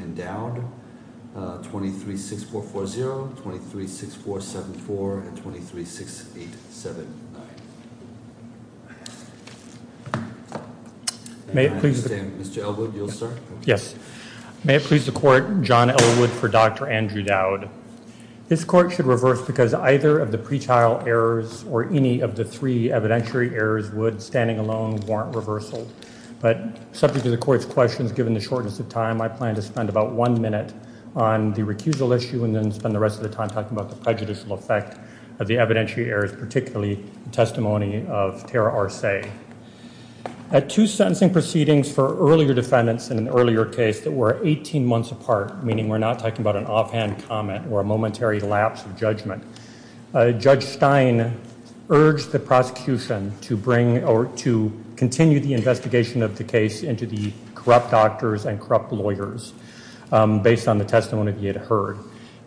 and Dowd, 23-6440, 23-6474, and 23-6879. May it please the Court, John L. Wood for Dr. Andrew Dowd. This Court should reverse because either of the pretrial errors or any of the three evidentiary errors would, standing alone, warrant reversal. But subject to the Court's questions, given the shortness of time, I plan to spend about one minute on the recusal issue and then spend the rest of the time talking about the prejudicial effect of the evidentiary errors, particularly the testimony of Tara Arce. At two sentencing proceedings for earlier defendants in an earlier case that were 18 months apart, meaning we're not talking about an offhand comment or a momentary lapse of judgment, Judge Stein urged the prosecution to bring or to continue the investigation of the case into the corrupt doctors and corrupt lawyers based on the testimony he had heard.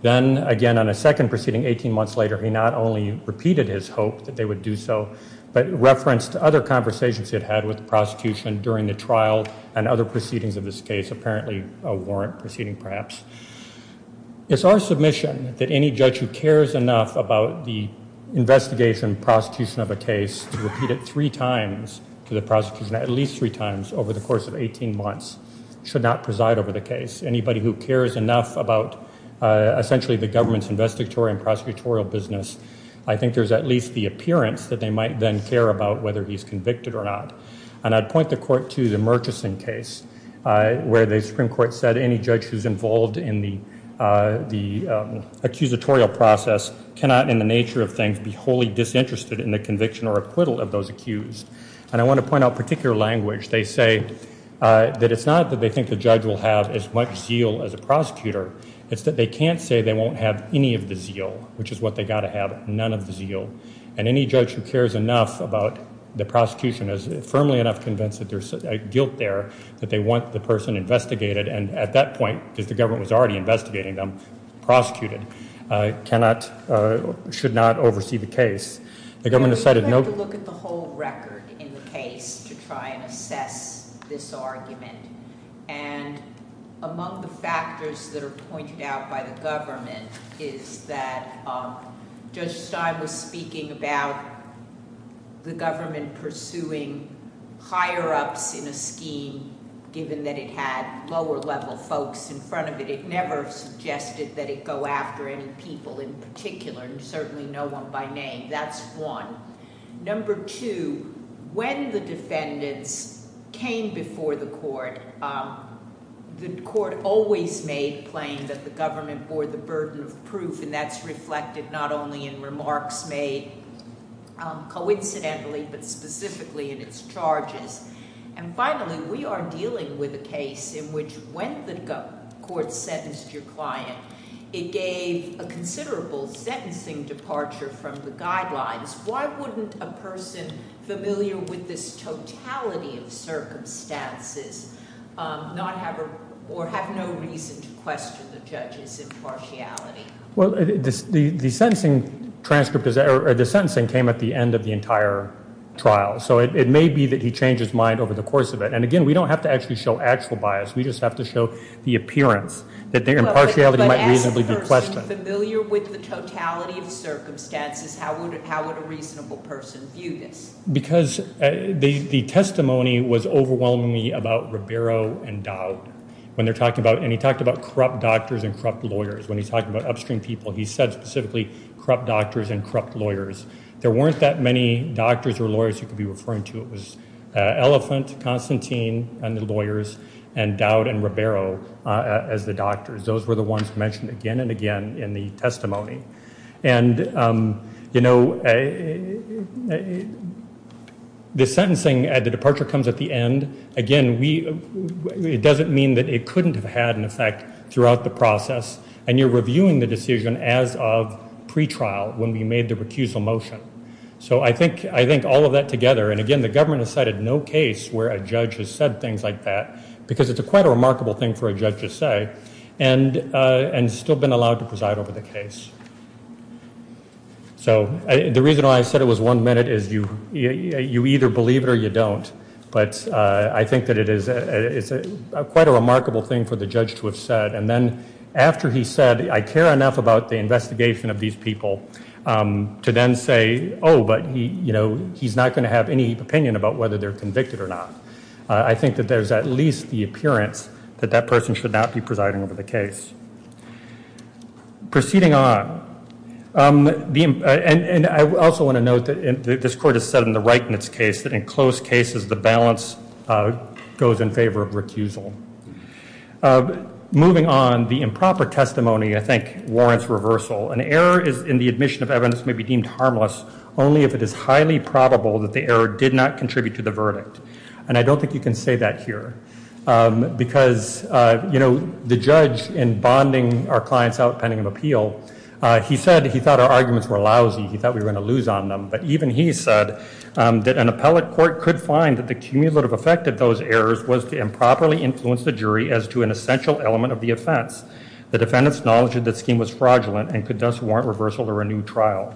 Then again on a second proceeding 18 months later, he not only repeated his hope that they would do so, but referenced other conversations he had had with the prosecution during the trial and other proceedings of this case, apparently a warrant proceeding perhaps. It's our submission that any judge who cares enough about the investigation and prosecution of a case to repeat it three times to the prosecution, at least three times over the course of 18 months, should not preside over the case. Anybody who cares enough about essentially the government's investigatory and prosecutorial business, I think there's at least the appearance that they might then care about whether he's convicted or not. And I'd point the Court to the Murchison case where the Supreme Court said any judge who's involved in the accusatorial process cannot in the nature of things be wholly disinterested in the conviction or acquittal of those accused. And I want to point out particular language. They say that it's not that they think the judge will have as much zeal as a prosecutor, it's that they can't say they won't have any of the zeal, which is what they got to have, none of the zeal. And any judge who cares enough about the prosecution is firmly enough convinced that there's a guilt there, that they want the person investigated, and at that point, because the government was already investigating them, prosecuted, cannot, should not oversee the case. The government decided no- I'd like to look at the whole record in the case to try and assess this argument, and among the factors that are pointed out by the government is that Judge Stein was speaking about the government pursuing higher-ups in a scheme, given that it had lower-level folks in front of it. It never suggested that it go after any people in particular, and certainly no one by name. That's one. Number two, when the defendants came before the court, the court always made plain that the government bore the burden of proof, and that's reflected not only in remarks made coincidentally, but specifically in its charges. And finally, we are dealing with a case in which when the court sentenced your client, it gave a considerable sentencing departure from the guidelines. Why wouldn't a person familiar with this totality of circumstances not have a- or have no reason to question the judge's impartiality? Well, the sentencing transcript is- or the sentencing came at the end of the entire trial, so it may be that he changed his mind over the course of it. And again, we don't have to actually show actual bias, we just have to show the appearance that the impartiality might reasonably be questioned. Well, but as a person familiar with the totality of circumstances, how would a reasonable person view this? Because the testimony was overwhelmingly about Ribeiro and Dowd, when they're talking about- when he talked about corrupt doctors and corrupt lawyers, when he talked about upstream people, he said specifically corrupt doctors and corrupt lawyers. There weren't that many doctors or lawyers you could be referring to. It was Elephant, Constantine, and the lawyers, and Dowd and Ribeiro as the doctors. Those were the ones mentioned again and again in the testimony. And you know, the sentencing at the departure comes at the end, again, we- it doesn't mean that it couldn't have had an effect throughout the process, and you're reviewing the decision as of pretrial, when we made the recusal motion. So I think all of that together, and again, the government has cited no case where a judge has said things like that, because it's quite a remarkable thing for a judge to say, and still been allowed to preside over the case. So the reason why I said it was one minute is you either believe it or you don't, but I think that it is quite a remarkable thing for the judge to have said, and then after he said, I care enough about the investigation of these people, to then say, oh, but he's not going to have any opinion about whether they're convicted or not. I think that there's at least the appearance that that person should not be presiding over the case. Proceeding on, and I also want to note that this Court has said in the Reitman's case that in close cases, the balance goes in favor of recusal. Moving on, the improper testimony, I think, warrants reversal. An error in the admission of evidence may be deemed harmless only if it is highly probable that the error did not contribute to the verdict. And I don't think you can say that here, because the judge, in bonding our clients out pending an appeal, he said he thought our arguments were lousy, he thought we were going to lose on them. But even he said that an appellate court could find that the cumulative effect of those errors was to improperly influence the jury as to an essential element of the offense. The defendants acknowledged that the scheme was fraudulent and could thus warrant reversal or a new trial.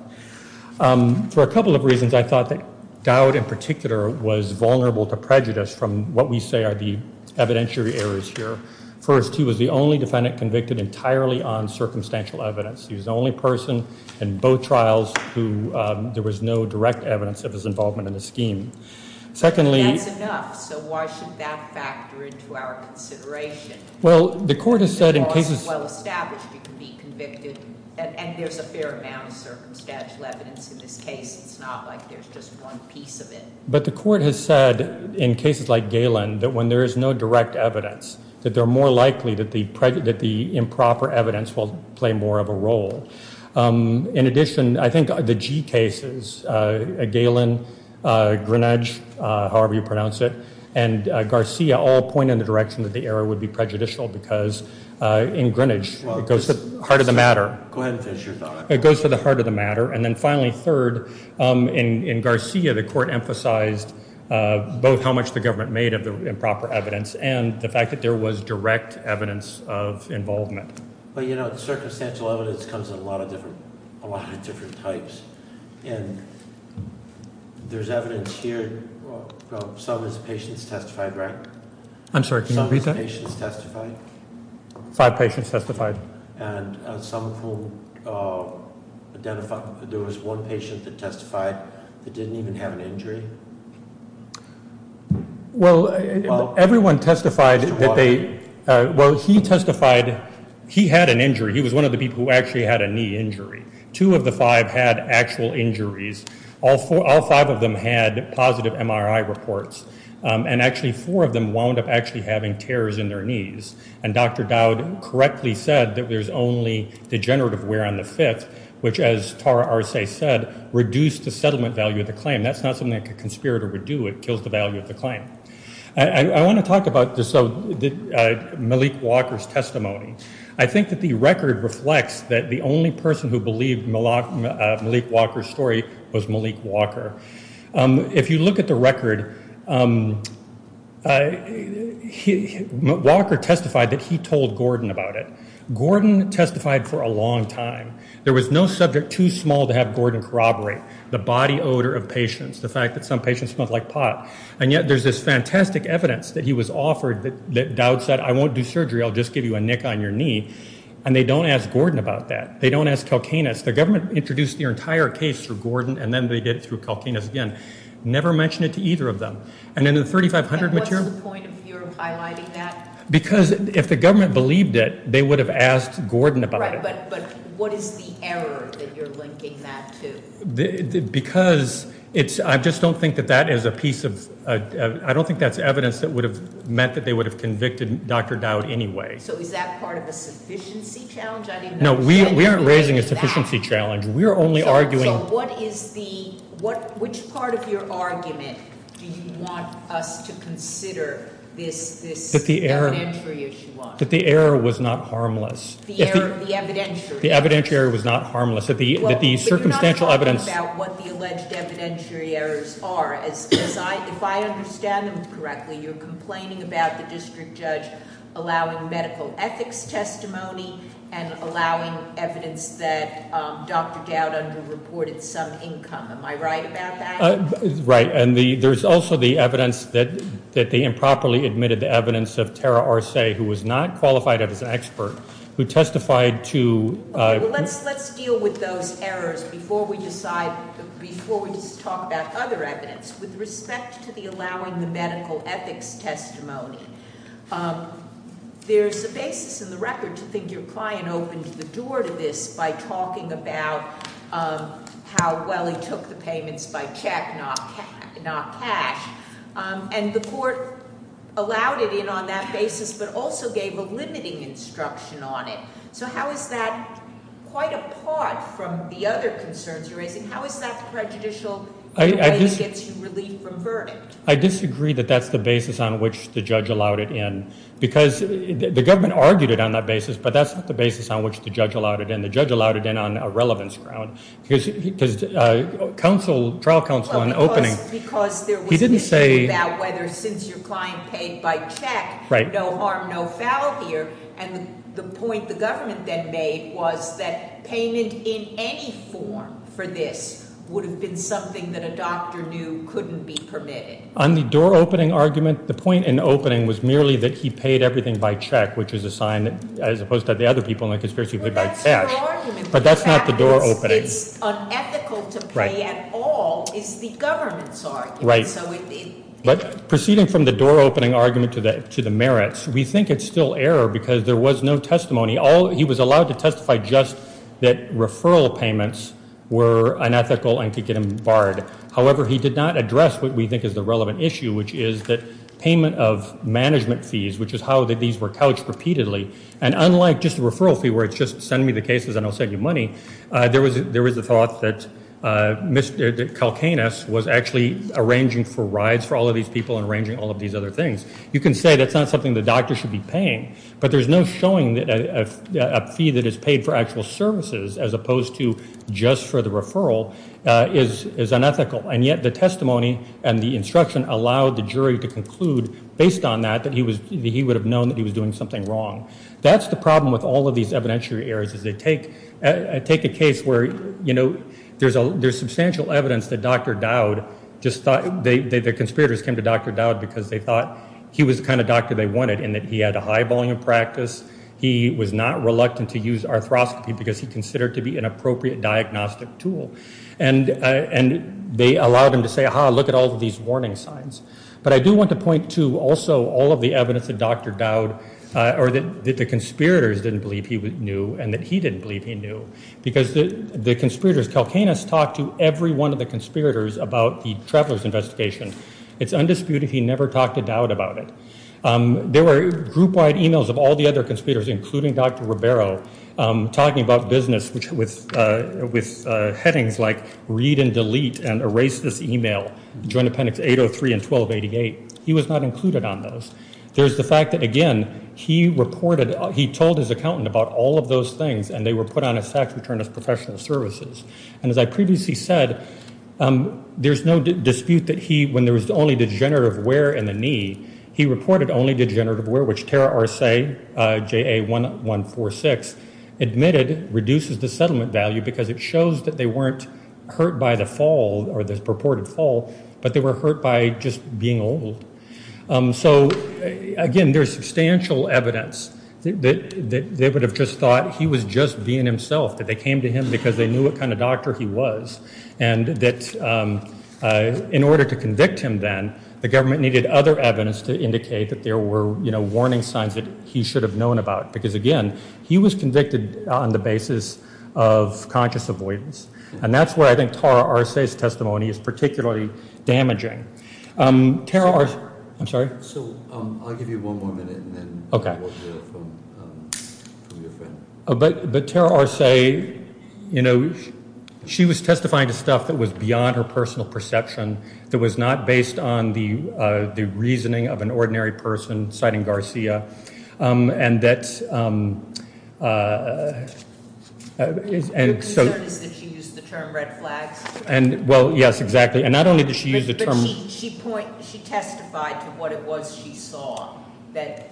For a couple of reasons, I thought that Dowd, in particular, was vulnerable to prejudice from what we say are the evidentiary errors here. First, he was the only defendant convicted entirely on circumstantial evidence. He was the only person in both trials who there was no direct evidence of his involvement in the scheme. Secondly... That's enough. So why should that factor into our consideration? Well, the court has said in cases... If the law is well established, you can be convicted. And there's a fair amount of circumstantial evidence in this case. It's not like there's just one piece of it. But the court has said, in cases like Galen, that when there is no direct evidence, that they're more likely that the improper evidence will play more of a role. In addition, I think the G cases, Galen, Greenidge, however you pronounce it, and Garcia all point in the direction that the error would be prejudicial because in Greenidge, it goes to the heart of the matter. Go ahead and finish your thought. It goes to the heart of the matter. And then finally, third, in Garcia, the court emphasized both how much the government made of the improper evidence and the fact that there was direct evidence of involvement. But you know, circumstantial evidence comes in a lot of different types. And there's evidence here... Some of these patients testified, right? I'm sorry, can you repeat that? Some of these patients testified? Five patients testified. And some of whom identified... There was one patient that testified that didn't even have an injury? Well, everyone testified that they... Well, he testified... He had an injury. He was one of the people who actually had a knee injury. Two of the five had actual injuries. All five of them had positive MRI reports. And actually, four of them wound up actually having tears in their knees. And Dr. Dowd correctly said that there's only degenerative wear on the fifth, which as Tara Arce said, reduced the settlement value of the claim. And that's not something a conspirator would do. It kills the value of the claim. I want to talk about Malik Walker's testimony. I think that the record reflects that the only person who believed Malik Walker's story was Malik Walker. If you look at the record, Walker testified that he told Gordon about it. Gordon testified for a long time. There was no subject too small to have Gordon corroborate. The body odor of patients. The fact that some patients smelled like pot. And yet there's this fantastic evidence that he was offered that Dowd said, I won't do surgery. I'll just give you a nick on your knee. And they don't ask Gordon about that. They don't ask Kalkanis. The government introduced their entire case through Gordon. And then they did it through Kalkanis again. Never mentioned it to either of them. And then the 3500 material... And what's the point of your highlighting that? Because if the government believed it, they would have asked Gordon about it. But what is the error that you're linking that to? Because I just don't think that that is a piece of... I don't think that's evidence that would have meant that they would have convicted Dr. Dowd anyway. So is that part of a sufficiency challenge? No, we aren't raising a sufficiency challenge. We're only arguing... So what is the... Which part of your argument do you want us to consider this... That the error was not harmless. The evidentiary. The evidentiary was not harmless. That the circumstantial evidence... Well, but you're not talking about what the alleged evidentiary errors are. As I... If I understand them correctly, you're complaining about the district judge allowing medical ethics testimony and allowing evidence that Dr. Dowd underreported some income. Am I right about that? Right. And there's also the evidence that they improperly admitted the evidence of Tara Arce, who was not qualified as an expert, who testified to... Let's deal with those errors before we decide... Before we talk about other evidence. With respect to the allowing the medical ethics testimony, there's a basis in the record to think your client opened the door to this by talking about how well he took the payments by check, not cash. And the court allowed it in on that basis, but also gave a limiting instruction on it. So how is that quite apart from the other concerns you're raising? How is that prejudicial in a way that gets you relief from verdict? I disagree that that's the basis on which the judge allowed it in. Because the government argued it on that basis, but that's not the basis on which the judge allowed it in. The judge allowed it in on a relevance ground. Because trial counsel in opening... Because there was... He didn't say... ...about whether since your client paid by check, no harm, no foul here. And the point the government then made was that payment in any form for this would have been something that a doctor knew couldn't be permitted. On the door opening argument, the point in opening was merely that he paid everything by check, which is a sign, as opposed to the other people in the conspiracy, paid by cash. Well, that's your argument. But that's not the door opening. It's unethical to pay at all, is the government's argument. But proceeding from the door opening argument to the merits, we think it's still error because there was no testimony. He was allowed to testify just that referral payments were unethical and could get him barred. However, he did not address what we think is the relevant issue, which is that payment of management fees, which is how these were couched repeatedly. And unlike just a referral fee where it's just send me the cases and I'll send you money, there was a thought that Calcanus was actually arranging for rides for all of these people and arranging all of these other things. You can say that's not something the doctor should be paying, but there's no showing that a fee that is paid for actual services, as opposed to just for the referral, is unethical. And yet the testimony and the instruction allowed the jury to conclude based on that that he would have known that he was doing something wrong. That's the problem with all of these evidentiary errors is they take a case where, you know, there's substantial evidence that Dr. Dowd just thought, the conspirators came to Dr. Dowd because they thought he was the kind of doctor they wanted and that he had a high volume of practice. He was not reluctant to use arthroscopy because he considered to be an appropriate diagnostic tool. And they allowed him to say, aha, look at all of these warning signs. But I do want to point to also all of the evidence that Dr. Dowd, or that the conspirators didn't believe he knew and that he didn't believe he knew. Because the conspirators, Calcanus talked to every one of the conspirators about the traveler's investigation. It's undisputed he never talked to Dowd about it. There were group-wide emails of all the other conspirators, including Dr. Ribeiro, talking about business with headings like read and delete and erase this email, joint appendix 803 and 1288. He was not included on those. There's the fact that, again, he reported, he told his accountant about all of those things and they were put on a tax return as professional services. And as I previously said, there's no dispute that he, when there was only degenerative wear in the knee, he reported only degenerative wear, which Tara Arce, JA 1146, admitted reduces the settlement value because it shows that they weren't hurt by the fall, or the purported fall, but they were hurt by just being old. So, again, there's substantial evidence that they would have just thought he was just being himself, that they came to him because they knew what kind of doctor he was, and that in order to convict him then, the government needed other evidence to indicate that there were, you know, warning signs that he should have known about. Because, again, he was convicted on the basis of conscious avoidance. And that's where I think Tara Arce's testimony is particularly damaging. Tara Arce, I'm sorry? So, I'll give you one more minute, and then we'll hear from your friend. But Tara Arce, you know, she was testifying to stuff that was beyond her personal perception, that was not based on the reasoning of an ordinary person, citing Garcia, and that's... Your concern is that she used the term red flags? Well, yes, exactly. And not only did she use the term... But she testified to what it was she saw that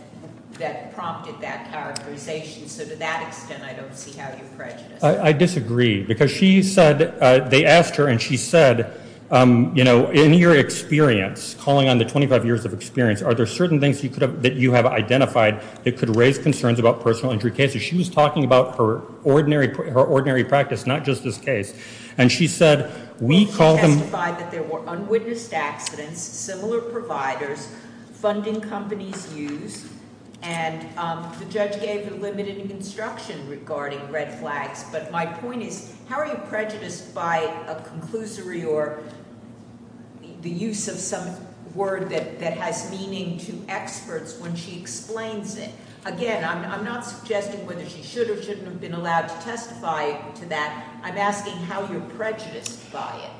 prompted that characterization. So, to that extent, I don't see how you're prejudiced. I disagree. Because she said, they asked her, and she said, you know, in your experience, calling on the 25 years of experience, are there certain things that you have identified that could raise concerns about personal injury cases? She was talking about her ordinary practice, not just this case. And she said, we call them... Well, she testified that there were unwitnessed accidents, similar providers, funding companies use, and the judge gave a limited instruction regarding red flags. But my point is, how are you prejudiced by a conclusory or the use of some word that has meaning to experts when she explains it? Again, I'm not suggesting whether she should or shouldn't have been allowed to testify to that. I'm asking how you're prejudiced by it.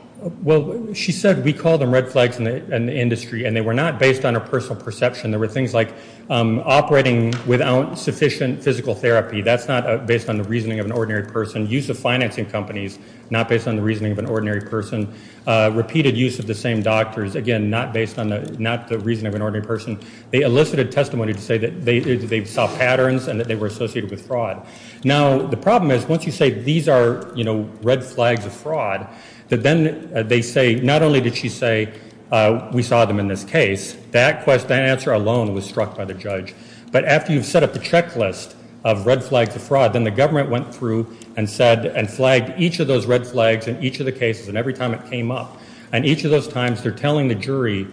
Well, she said, we call them red flags in the industry. And they were not based on a personal perception. There were things like operating without sufficient physical therapy. That's not based on the reasoning of an ordinary person. Use of financing companies, not based on the reasoning of an ordinary person. Repeated use of the same doctors, again, not based on the reasoning of an ordinary person. They elicited testimony to say that they saw patterns and that they were associated with fraud. Now, the problem is, once you say these are, you know, red flags of fraud, that then they say, not only did she say, we saw them in this case, that question, that answer alone was struck by the judge. But after you've set up the checklist of red flags of fraud, then the government went through and said, and flagged each of those red flags in each of the cases, and every time it came up, and each of those times they're telling the jury,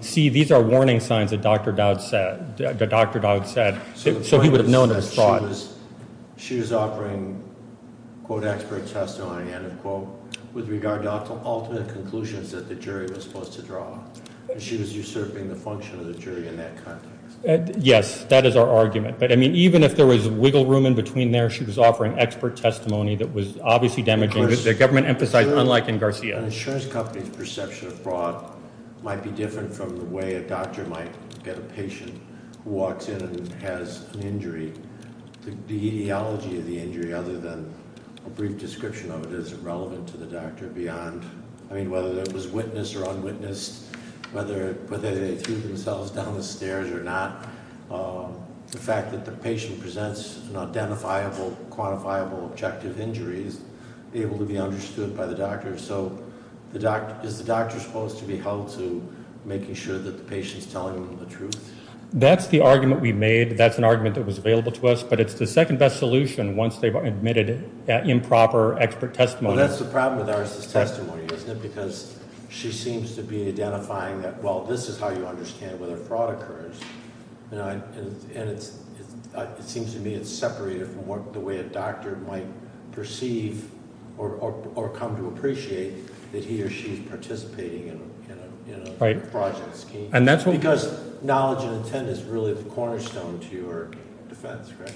see, these are warning signs that Dr. Dowd said, so he would have known it was fraud. She was offering, quote, expert testimony, end of quote, with regard to all the conclusions that the jury was supposed to draw. She was usurping the function of the jury in that context. Yes, that is our argument. But, I mean, even if there was wiggle room in between there, she was offering expert testimony that was obviously damaging. The government emphasized, unlike in Garcia. An insurance company's perception of fraud might be different from the way a doctor might get a patient who walks in and has an injury. The ideology of the injury, other than a brief description of it, is irrelevant to the doctor beyond, I mean, whether it was witnessed or unwitnessed, whether they threw themselves down the stairs or not. The fact that the patient presents an identifiable, quantifiable objective injury is able to be understood by the doctor. So, is the doctor supposed to be held to making sure that the patient's telling them the truth? That's the argument we made. That's an argument that was available to us, but it's the second best solution once they've admitted improper expert testimony. Well, that's the problem with Iris' testimony, isn't it? Because she seems to be identifying that, well, this is how you understand whether fraud occurs. And it seems to me it's separated from what the way a doctor might perceive or come to appreciate that he or she is participating in a project scheme. Because knowledge and intent is really the cornerstone to your defense, correct?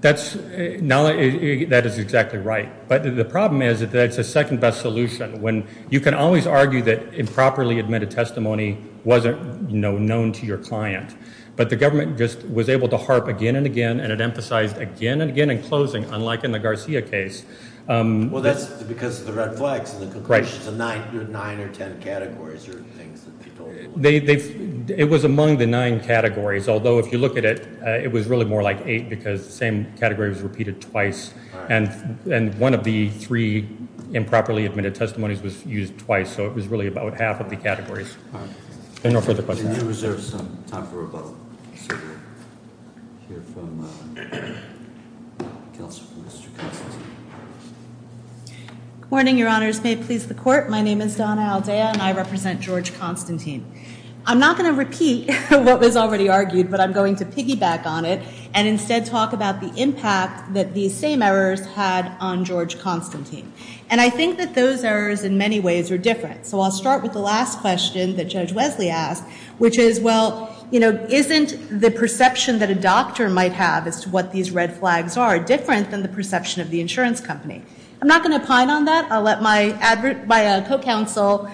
That is exactly right. But the problem is that it's a second best solution when you can always argue that improperly admitted testimony wasn't known to your client. But the government just was able to harp again and again, and it emphasized again and again even in closing, unlike in the Garcia case. Well, that's because of the red flags in the conclusion. The nine or ten categories are things that people... It was among the nine categories, although if you look at it, it was really more like eight because the same category was repeated twice. And one of the three improperly admitted testimonies was used twice, so it was really about half of the categories. Any more further questions? We do reserve some time for rebuttal, so we'll hear from Mr. Constantine. Good morning, your honors. May it please the court, my name is Donna Aldea and I represent George Constantine. I'm not going to repeat what was already argued, but I'm going to piggyback on it and instead talk about the impact that these same errors had on George Constantine. And I think that those errors in many ways are different. So I'll start with the last question that Judge Wesley asked, which is, well, isn't the perception that a doctor might have as to what these red flags are different than the perception of the insurance company? I'm not going to pine on that. I'll let my co-counsel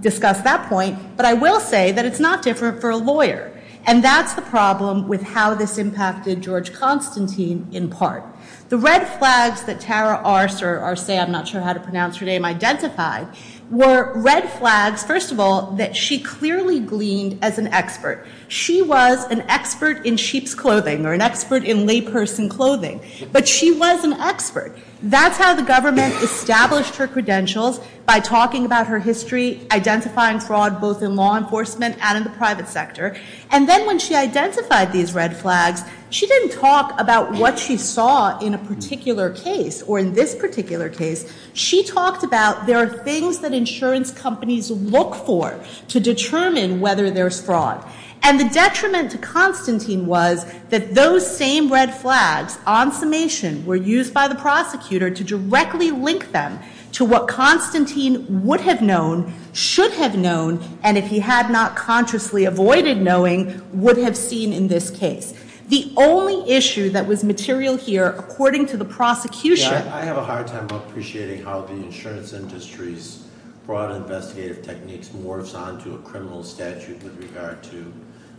discuss that point, but I will say that it's not different for a lawyer. And that's the problem with how this impacted George Constantine in part. The red flags that Tara Arcer, I'm not sure how to pronounce her name, identified, were red flags, first of all, that she clearly gleaned as an expert. She was an expert in sheep's clothing or an expert in layperson clothing, but she was an expert. That's how the government established her credentials, by talking about her history, identifying fraud both in law enforcement and in the private sector. And then when she identified these red flags, she didn't talk about what she saw in a particular case or in this particular case. She talked about there are things that insurance companies look for to determine whether there's fraud. And the detriment to Constantine was that those same red flags, on summation, were used by the prosecutor to directly link them to what Constantine would have known, should have known, and if he had not consciously avoided knowing, would have seen in this case. The only issue that was material here, according to the prosecution... I have a hard time appreciating how the insurance industry's broad investigative techniques morphs onto a criminal statute with regard to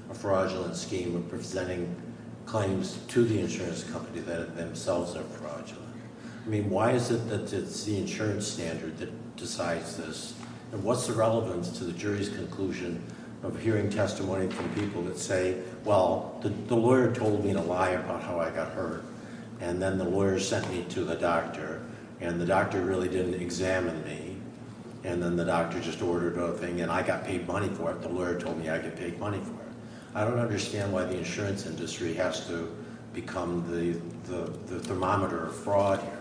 a fraudulent scheme of presenting claims to the insurance company that themselves are fraudulent. I mean, why is it that it's the insurance standard that decides this? And what's the relevance to the jury's conclusion of hearing testimony from people that say, well, the lawyer told me a lie about how I got hurt. And then the lawyer sent me to the doctor. And the doctor really didn't examine me. And then the doctor just ordered a thing. And I got paid money for it. The lawyer told me I get paid money for it. I don't understand why the insurance industry has to become the thermometer of fraud here.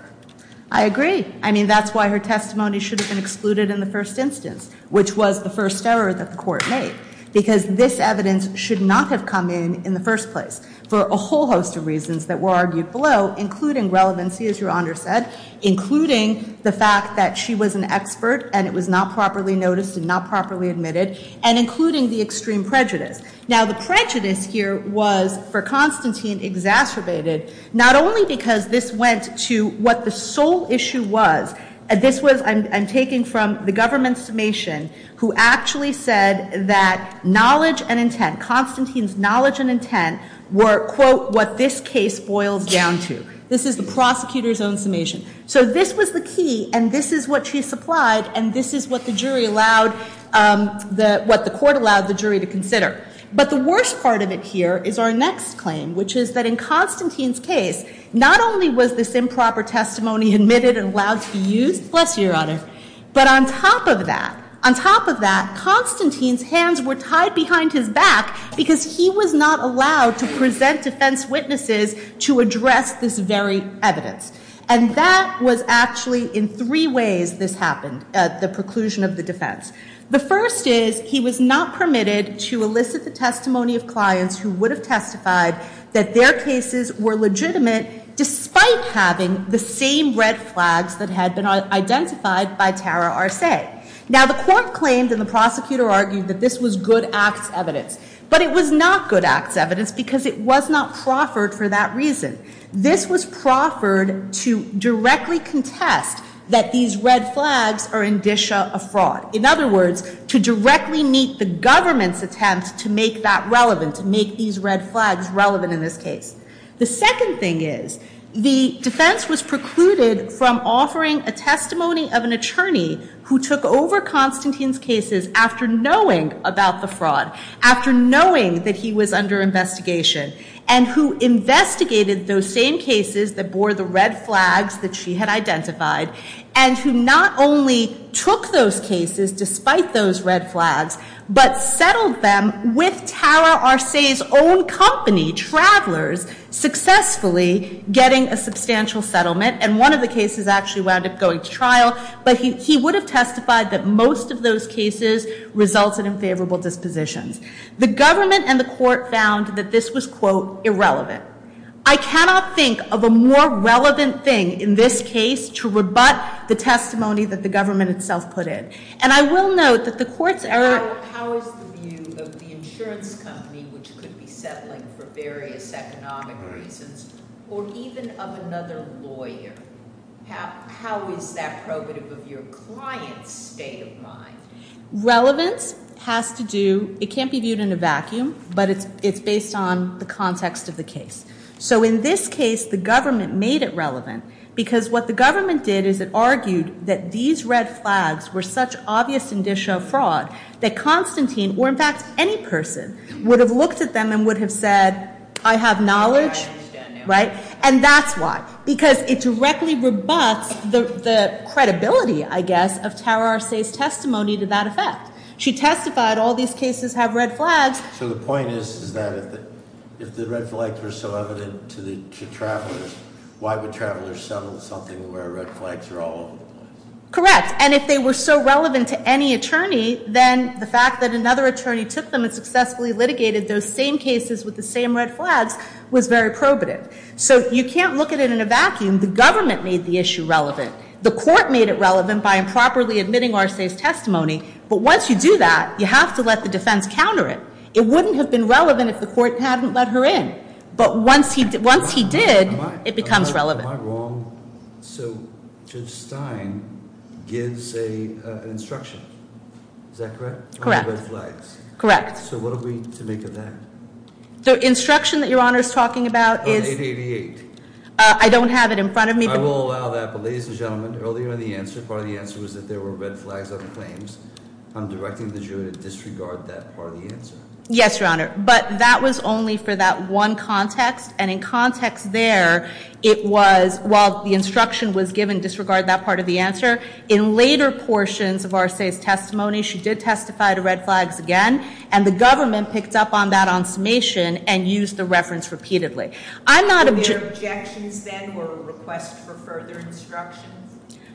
I agree. I mean, that's why her testimony should have been excluded in the first instance, which was the first error that the court made. Because this evidence should not have come in in the first place, for a whole host of reasons that were argued below, including relevancy, as Your Honor said, including the fact that she was an expert, and it was not properly noticed and not properly admitted, and including the extreme prejudice. Now, the prejudice here was, for Constantine, exacerbated, not only because this went to what the sole issue was. This was, I'm taking from the government's summation, who actually said that knowledge and intent, were, quote, what this case boils down to. This is the prosecutor's own summation. So this was the key, and this is what she supplied, and this is what the jury allowed, what the court allowed the jury to consider. But the worst part of it here is our next claim, which is that in Constantine's case, not only was this improper testimony admitted and allowed to be used, bless you, Your Honor, but on top of that, on top of that, Constantine's hands were tied behind his back, because he was not allowed to present defense witnesses to address this very evidence. And that was actually, in three ways, this happened, the preclusion of the defense. The first is, he was not permitted to elicit the testimony of clients who would have testified that their cases were legitimate, despite having the same red flags that had been identified by Tara Arce. Now, the court claimed, and the prosecutor argued, that this was good acts evidence. But it was not good acts evidence, because it was not proffered for that reason. This was proffered to directly contest that these red flags are indicia of fraud. In other words, to directly meet the government's attempt to make that relevant, to make these red flags relevant in this case. The second thing is, the defense was precluded from offering a testimony of an attorney who took over Constantine's cases after knowing about the fraud, after knowing that he was under investigation, and who investigated those same cases that bore the red flags that she had identified, and who not only took those cases, despite those red flags, but settled them with Tara Arce's own company, Travelers, successfully getting a substantial settlement. And one of the cases actually wound up going to trial, but he would have testified that most of those cases resulted in favorable dispositions. The government and the court found that this was, quote, irrelevant. I cannot think of a more relevant thing in this case to rebut the testimony that the government itself put in. And I will note that the court's error... How is the view of the insurance company, which could be settling for various economic reasons, or even of another lawyer, how is that probative of your client's state of mind? Relevance has to do... It can't be viewed in a vacuum, but it's based on the context of the case. So in this case, the government made it relevant, because what the government did is it argued that these red flags were such obvious indicia of fraud that Constantine, or in fact any person, would have looked at them and would have said, I have knowledge, right? And that's why. Because it directly rebuts the credibility, I guess, of Tara Arce's testimony to that effect. She testified all these cases have red flags. So the point is that if the red flags were so evident to travelers, why would travelers settle for something where red flags are all over the place? Correct. And if they were so relevant to any attorney, then the fact that another attorney took them and successfully litigated those same cases with the same red flags was very probative. So you can't look at it in a vacuum. The government made the issue relevant. The court made it relevant by improperly admitting Arce's testimony. But once you do that, you have to let the defense counter it. It wouldn't have been relevant if the court hadn't let her in. But once he did, it becomes relevant. Am I wrong? So Judge Stein gives an instruction. Is that correct? Correct. On the red flags. Correct. So what are we to make of that? The instruction that Your Honor is talking about is- On 888. I don't have it in front of me. I will allow that. But ladies and gentlemen, earlier in the answer, part of the answer was that there were red flags on the claims. I'm directing the jury to disregard that part of the answer. Yes, Your Honor. But that was only for that one context. And in context there, it was, while the instruction was given disregard that part of the answer, in later portions of Arce's testimony, she did testify to red flags again. And the government picked up on that on summation and used the reference repeatedly. Were there objections then or requests for further instructions?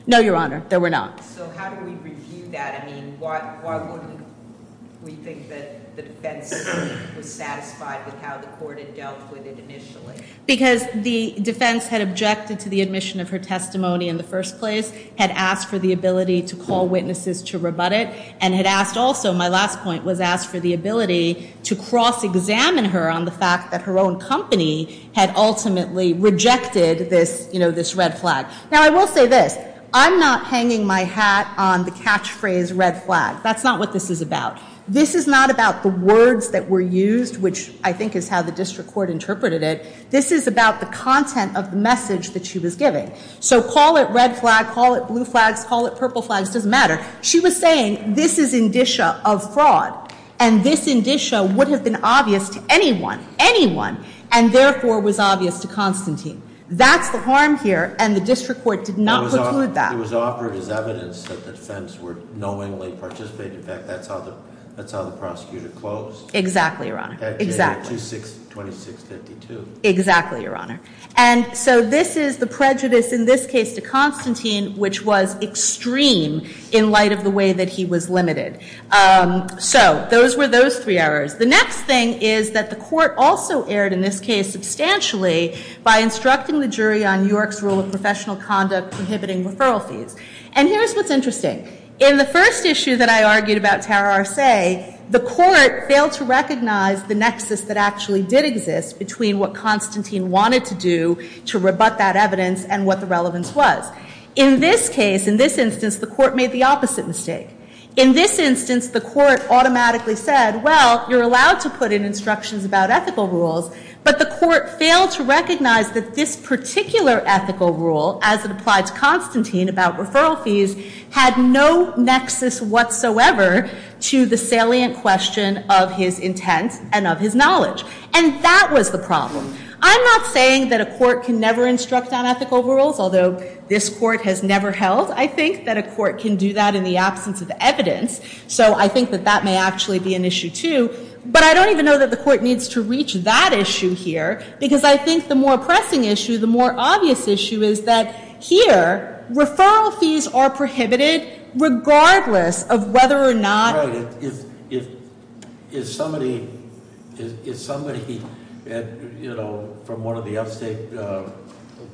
No, Your Honor. There were not. So how do we review that? I mean, why wouldn't we think that the defense was satisfied with how the court had dealt with it initially? Because the defense had objected to the admission of her testimony in the first place, had asked for the ability to call witnesses to rebut it, and had asked also, my last point, was asked for the ability to cross-examine her on the fact that her own company had ultimately rejected this red flag. Now, I will say this. I'm not hanging my hat on the catchphrase red flag. That's not what this is about. This is not about the words that were used, which I think is how the district court interpreted it. This is about the content of the message that she was giving. So call it red flag, call it blue flags, call it purple flags, it doesn't matter. She was saying, this is indicia of fraud, and this indicia would have been obvious to anyone, anyone, and therefore was obvious to Constantine. That's the harm here, and the district court did not preclude that. It was offered as evidence that the defense were knowingly participating. In fact, that's how the prosecutor closed. Exactly, Your Honor. That day, 26-52. Exactly, Your Honor. And so this is the prejudice in this case to Constantine, which was extreme in light of the way that he was limited. So those were those three errors. The next thing is that the court also erred in this case substantially by instructing the jury on York's rule of professional conduct prohibiting referral fees. And here's what's interesting. In the first issue that I argued about Tara Arce, the court failed to recognize the nexus that actually did exist between what Constantine wanted to do to rebut that evidence and what the relevance was. In this case, in this instance, the court made the opposite mistake. In this instance, the court automatically said, well, you're allowed to put in instructions about ethical rules, but the court failed to recognize that this particular ethical rule, as it applied to Constantine about referral fees, had no nexus whatsoever to the salient question of his intent and of his knowledge. And that was the problem. I'm not saying that a court can never instruct on ethical rules, although this court has never held. I think that a court can do that in the absence of evidence. So I think that that may actually be an issue, too. But I don't even know that the court needs to reach that issue here, because I think the more pressing issue, the more obvious issue, is that here, referral fees are prohibited, regardless of whether or not- If somebody, from one of the upstate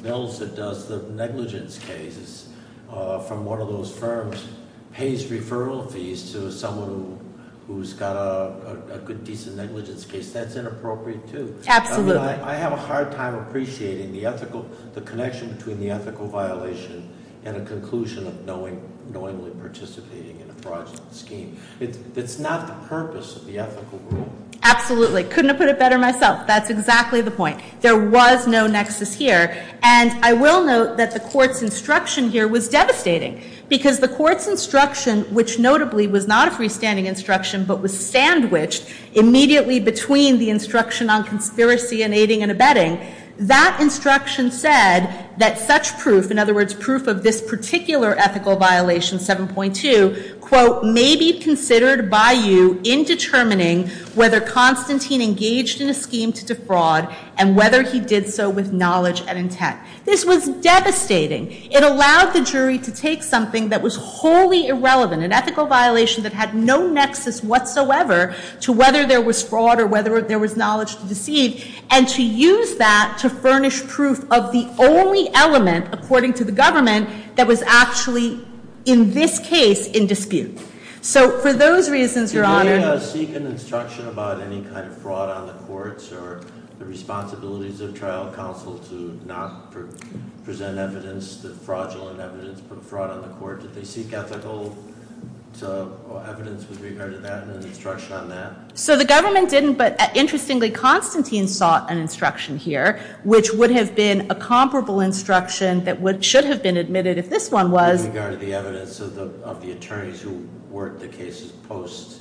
bills that does the negligence cases, from one of those firms, pays referral fees to someone who's got a good, decent negligence case, that's inappropriate, too. Absolutely. I have a hard time appreciating the connection between the ethical violation and a conclusion of knowingly participating in a fraudulent scheme. It's not the purpose of the ethical rule. Absolutely. Couldn't have put it better myself. That's exactly the point. There was no nexus here. And I will note that the court's instruction here was devastating, because the court's instruction, which notably was not a freestanding instruction, but was sandwiched immediately between the instruction on conspiracy and aiding and abetting, that instruction said that such proof, in other words, proof of this particular ethical violation, 7.2, may be considered by you in determining whether Constantine engaged in a scheme to defraud and whether he did so with knowledge and intent. This was devastating. It allowed the jury to take something that was wholly irrelevant, an ethical violation that had no nexus whatsoever to whether there was fraud or whether there was knowledge to deceive, and to use that to furnish proof of the only element, according to the government, that was actually, in this case, in dispute. So for those reasons, Your Honor— Did the jury seek an instruction about any kind of fraud on the courts or the responsibilities of trial counsel to not present evidence, the fraudulent evidence, put fraud on the court? Did they seek ethical evidence with regard to that and an instruction on that? So the government didn't, but interestingly, Constantine sought an instruction here, which would have been a comparable instruction that should have been admitted if this one was— With regard to the evidence of the attorneys who worked the cases post?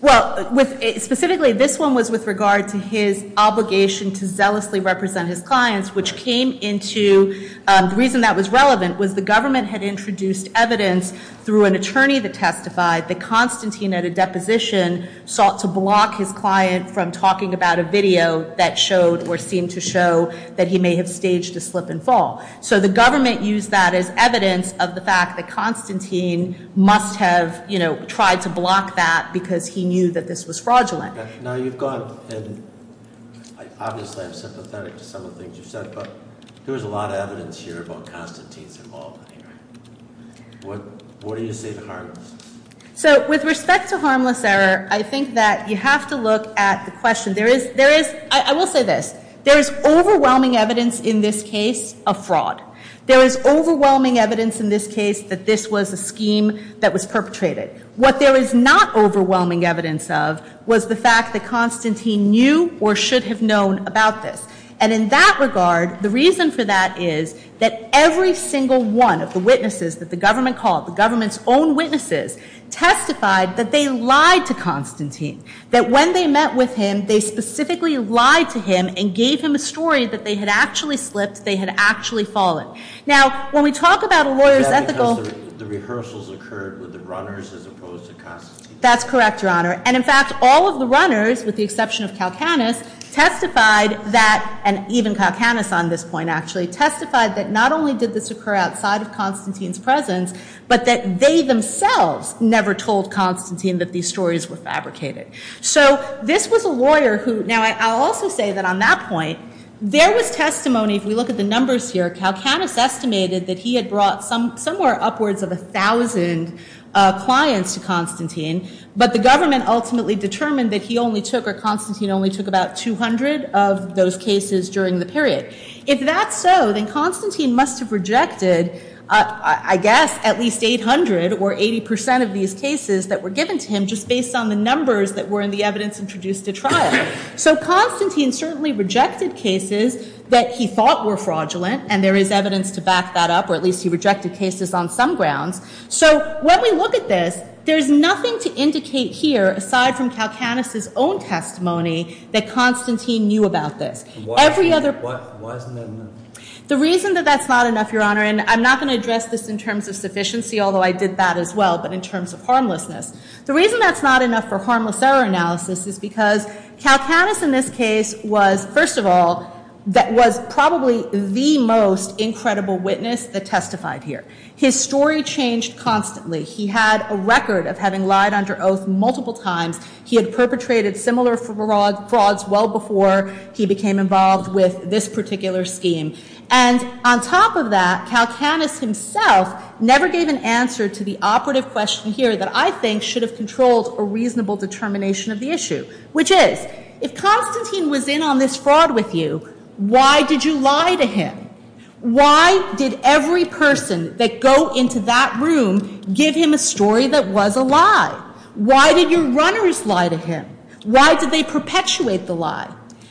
Well, specifically, this one was with regard to his obligation to zealously represent his clients, which came into—the reason that was relevant was the government had introduced evidence through an attorney that testified that Constantine, at a deposition, sought to block his client from talking about a video that showed or seemed to show that he may have staged a slip and fall. So the government used that as evidence of the fact that Constantine must have, you know, tried to block that because he knew that this was fraudulent. Now, you've gone and—obviously, I'm sympathetic to some of the things you've said, but there was a lot of evidence here about Constantine's involvement here. What do you say to harmless? So with respect to harmless error, I think that you have to look at the question. There is—I will say this. There is overwhelming evidence in this case of fraud. There is overwhelming evidence in this case that this was a scheme that was perpetrated. What there is not overwhelming evidence of was the fact that Constantine knew or should have known about this. And in that regard, the reason for that is that every single one of the witnesses that the government called, the government's own witnesses, testified that they lied to Constantine. That when they met with him, they specifically lied to him and gave him a story that they had actually slipped, they had actually fallen. Now, when we talk about a lawyer's ethical— Because the rehearsals occurred with the runners as opposed to Constantine. That's correct, Your Honor. And in fact, all of the runners, with the exception of Kalkanis, testified that—and even Kalkanis on this point, actually— testified that not only did this occur outside of Constantine's presence, but that they themselves never told Constantine that these stories were fabricated. So this was a lawyer who— Now, I'll also say that on that point, there was testimony— If we look at the numbers here, Kalkanis estimated that he had brought somewhere upwards of 1,000 clients to Constantine, but the government ultimately determined that he only took— or Constantine only took about 200 of those cases during the period. If that's so, then Constantine must have rejected, I guess, at least 800 or 80 percent of these cases that were given to him just based on the numbers that were in the evidence introduced at trial. So Constantine certainly rejected cases that he thought were fraudulent, and there is evidence to back that up, or at least he rejected cases on some grounds. So when we look at this, there's nothing to indicate here, aside from Kalkanis's own testimony, that Constantine knew about this. Why isn't that enough? The reason that that's not enough, Your Honor— and I'm not going to address this in terms of sufficiency, although I did that as well, but in terms of harmlessness— the reason that's not enough for harmless error analysis is because Kalkanis in this case was, first of all, was probably the most incredible witness that testified here. His story changed constantly. He had a record of having lied under oath multiple times. He had perpetrated similar frauds well before he became involved with this particular scheme. And on top of that, Kalkanis himself never gave an answer to the operative question here that I think should have controlled a reasonable determination of the issue, which is, if Constantine was in on this fraud with you, why did you lie to him? Why did every person that go into that room give him a story that was a lie? Why did your runners lie to him? Why did they perpetuate the lie?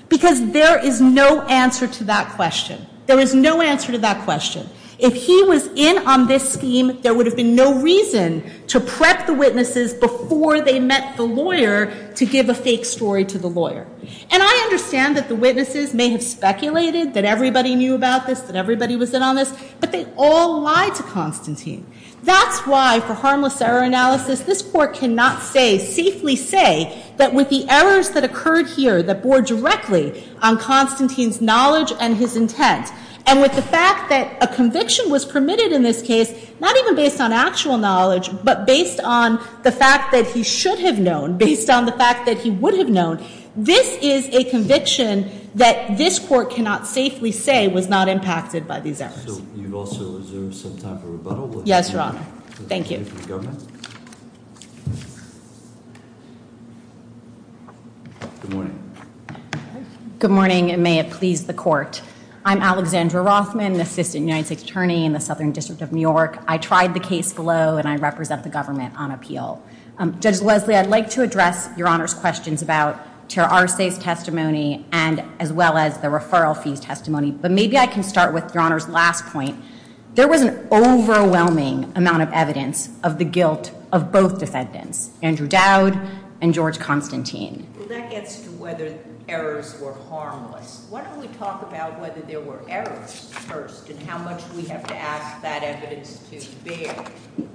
Because there is no answer to that question. There is no answer to that question. If he was in on this scheme, there would have been no reason to prep the witnesses before they met the lawyer to give a fake story to the lawyer. And I understand that the witnesses may have speculated that everybody knew about this, that everybody was in on this, but they all lied to Constantine. That's why, for harmless error analysis, this Court cannot say, safely say, that with the errors that occurred here that bore directly on Constantine's knowledge and his intent, and with the fact that a conviction was permitted in this case, not even based on actual knowledge, but based on the fact that he should have known, based on the fact that he would have known, this is a conviction that this Court cannot safely say was not impacted by these errors. You've also reserved some time for rebuttal. Yes, Your Honor. Thank you. Good morning. Good morning, and may it please the Court. I'm Alexandra Rothman, Assistant United States Attorney in the Southern District of New York. I tried the case below, and I represent the government on appeal. Judge Leslie, I'd like to address Your Honor's questions about Chair Arce's testimony, as well as the referral fee's testimony. But maybe I can start with Your Honor's last point. There was an overwhelming amount of evidence of the guilt of both defendants, Andrew Dowd and George Constantine. Well, that gets to whether errors were harmless. Why don't we talk about whether there were errors first, and how much we have to ask that evidence to bear?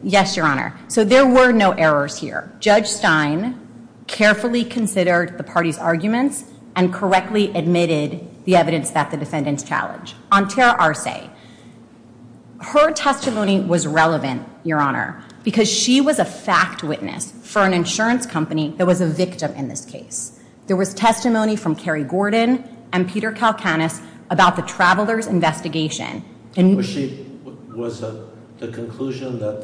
Yes, Your Honor. So there were no errors here. Judge Stein carefully considered the parties' arguments, and correctly admitted the evidence that the defendants challenged. On Chair Arce, her testimony was relevant, Your Honor, because she was a fact witness for an insurance company that was a victim in this case. There was testimony from Kerry Gordon and Peter Kalkanis about the traveler's investigation. Was the conclusion that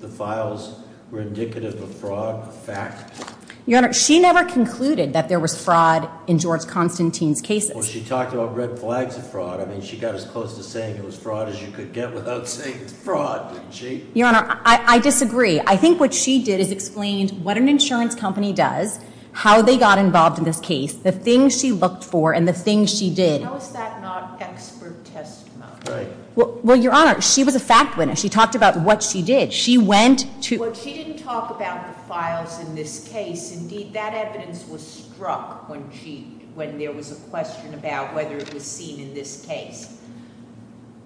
the files were indicative of fraud a fact? Your Honor, she never concluded that there was fraud in George Constantine's cases. Well, she talked about red flags of fraud. I mean, she got as close to saying it was fraud as you could get without saying it's fraud, didn't she? Your Honor, I disagree. I think what she did is explain what an insurance company does, how they got involved in this case, the things she looked for, and the things she did. How is that not expert testimony? Well, Your Honor, she was a fact witness. She talked about what she did. She went to- Well, she didn't talk about the files in this case. Indeed, that evidence was struck when there was a question about whether it was seen in this case.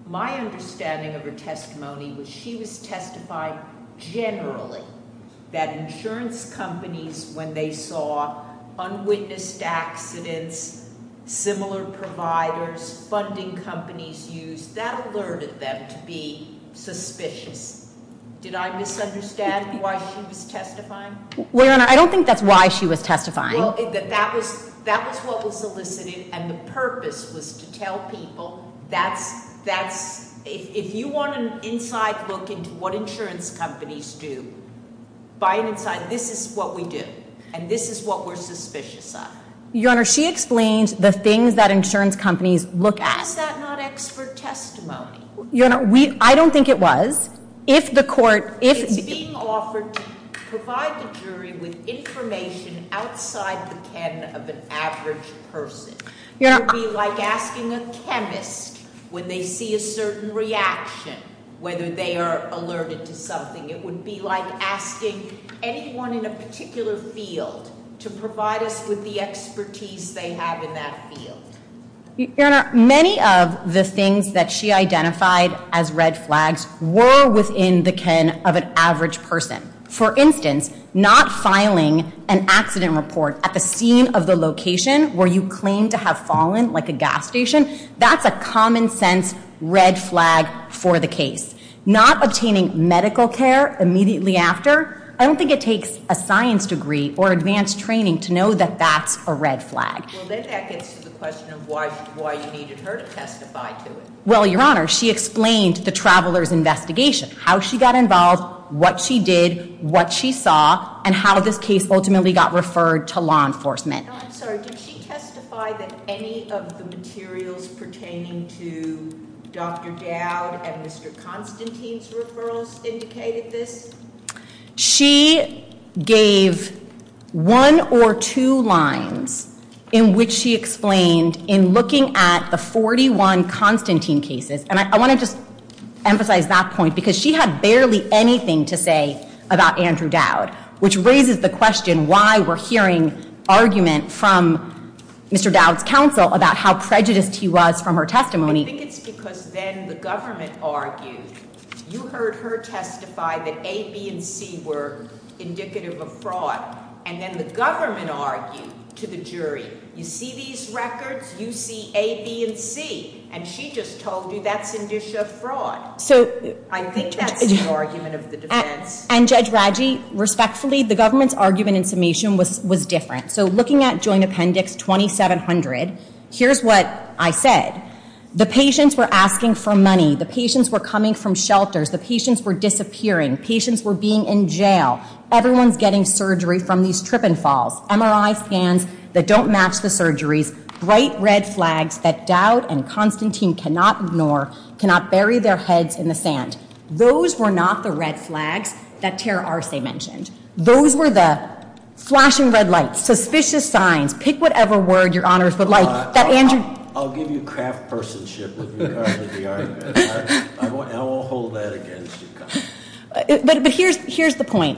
My understanding of her testimony was she was testifying generally that insurance companies, when they saw unwitnessed accidents, similar providers, funding companies used, that alerted them to be suspicious. Did I misunderstand why she was testifying? Well, Your Honor, I don't think that's why she was testifying. That was what was elicited, and the purpose was to tell people, if you want an inside look into what insurance companies do, buy an inside, this is what we do, and this is what we're suspicious of. Your Honor, she explains the things that insurance companies look at. How is that not expert testimony? Your Honor, I don't think it was. If the court- It's being offered to provide the jury with information outside the canon of an average person. It would be like asking a chemist, when they see a certain reaction, whether they are alerted to something. It would be like asking anyone in a particular field to provide us with the expertise they have in that field. Your Honor, many of the things that she identified as red flags were within the canon of an average person. For instance, not filing an accident report at the scene of the location where you claim to have fallen, like a gas station, that's a common sense red flag for the case. Not obtaining medical care immediately after, I don't think it takes a science degree or advanced training to know that that's a red flag. Well, then that gets to the question of why you needed her to testify to it. Well, Your Honor, she explained the traveler's investigation. How she got involved, what she did, what she saw, and how this case ultimately got referred to law enforcement. I'm sorry, did she testify that any of the materials pertaining to Dr. Dowd and Mr. Constantine's referrals indicated this? She gave one or two lines in which she explained in looking at the 41 Constantine cases, and I want to just emphasize that point, because she had barely anything to say about Andrew Dowd, which raises the question why we're hearing argument from Mr. Dowd's counsel about how prejudiced he was from her testimony. I think it's because then the government argued, you heard her testify that A, B, and C were indicative of fraud, and then the government argued to the jury, you see these records, you see A, B, and C, and she just told you that's indicia of fraud. I think that's the argument of the defense. And Judge Raggi, respectfully, the government's argument in summation was different. So looking at Joint Appendix 2700, here's what I said. The patients were asking for money. The patients were coming from shelters. The patients were disappearing. Patients were being in jail. Everyone's getting surgery from these trip and falls. MRI scans that don't match the surgeries. Bright red flags that Dowd and Constantine cannot ignore, cannot bury their heads in the sand. Those were not the red flags that Tara Arce mentioned. Those were the flashing red lights, suspicious signs, pick whatever word your honors would like, I'll give you craft person-ship with regard to the argument. I won't hold that against you. But here's the point.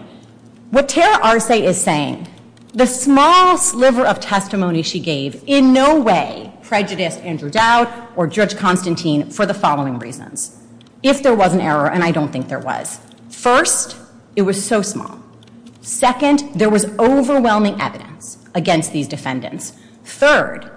What Tara Arce is saying, the small sliver of testimony she gave in no way prejudiced Andrew Dowd or Judge Constantine for the following reasons. If there was an error, and I don't think there was. First, it was so small. Second, there was overwhelming evidence against these defendants. Third,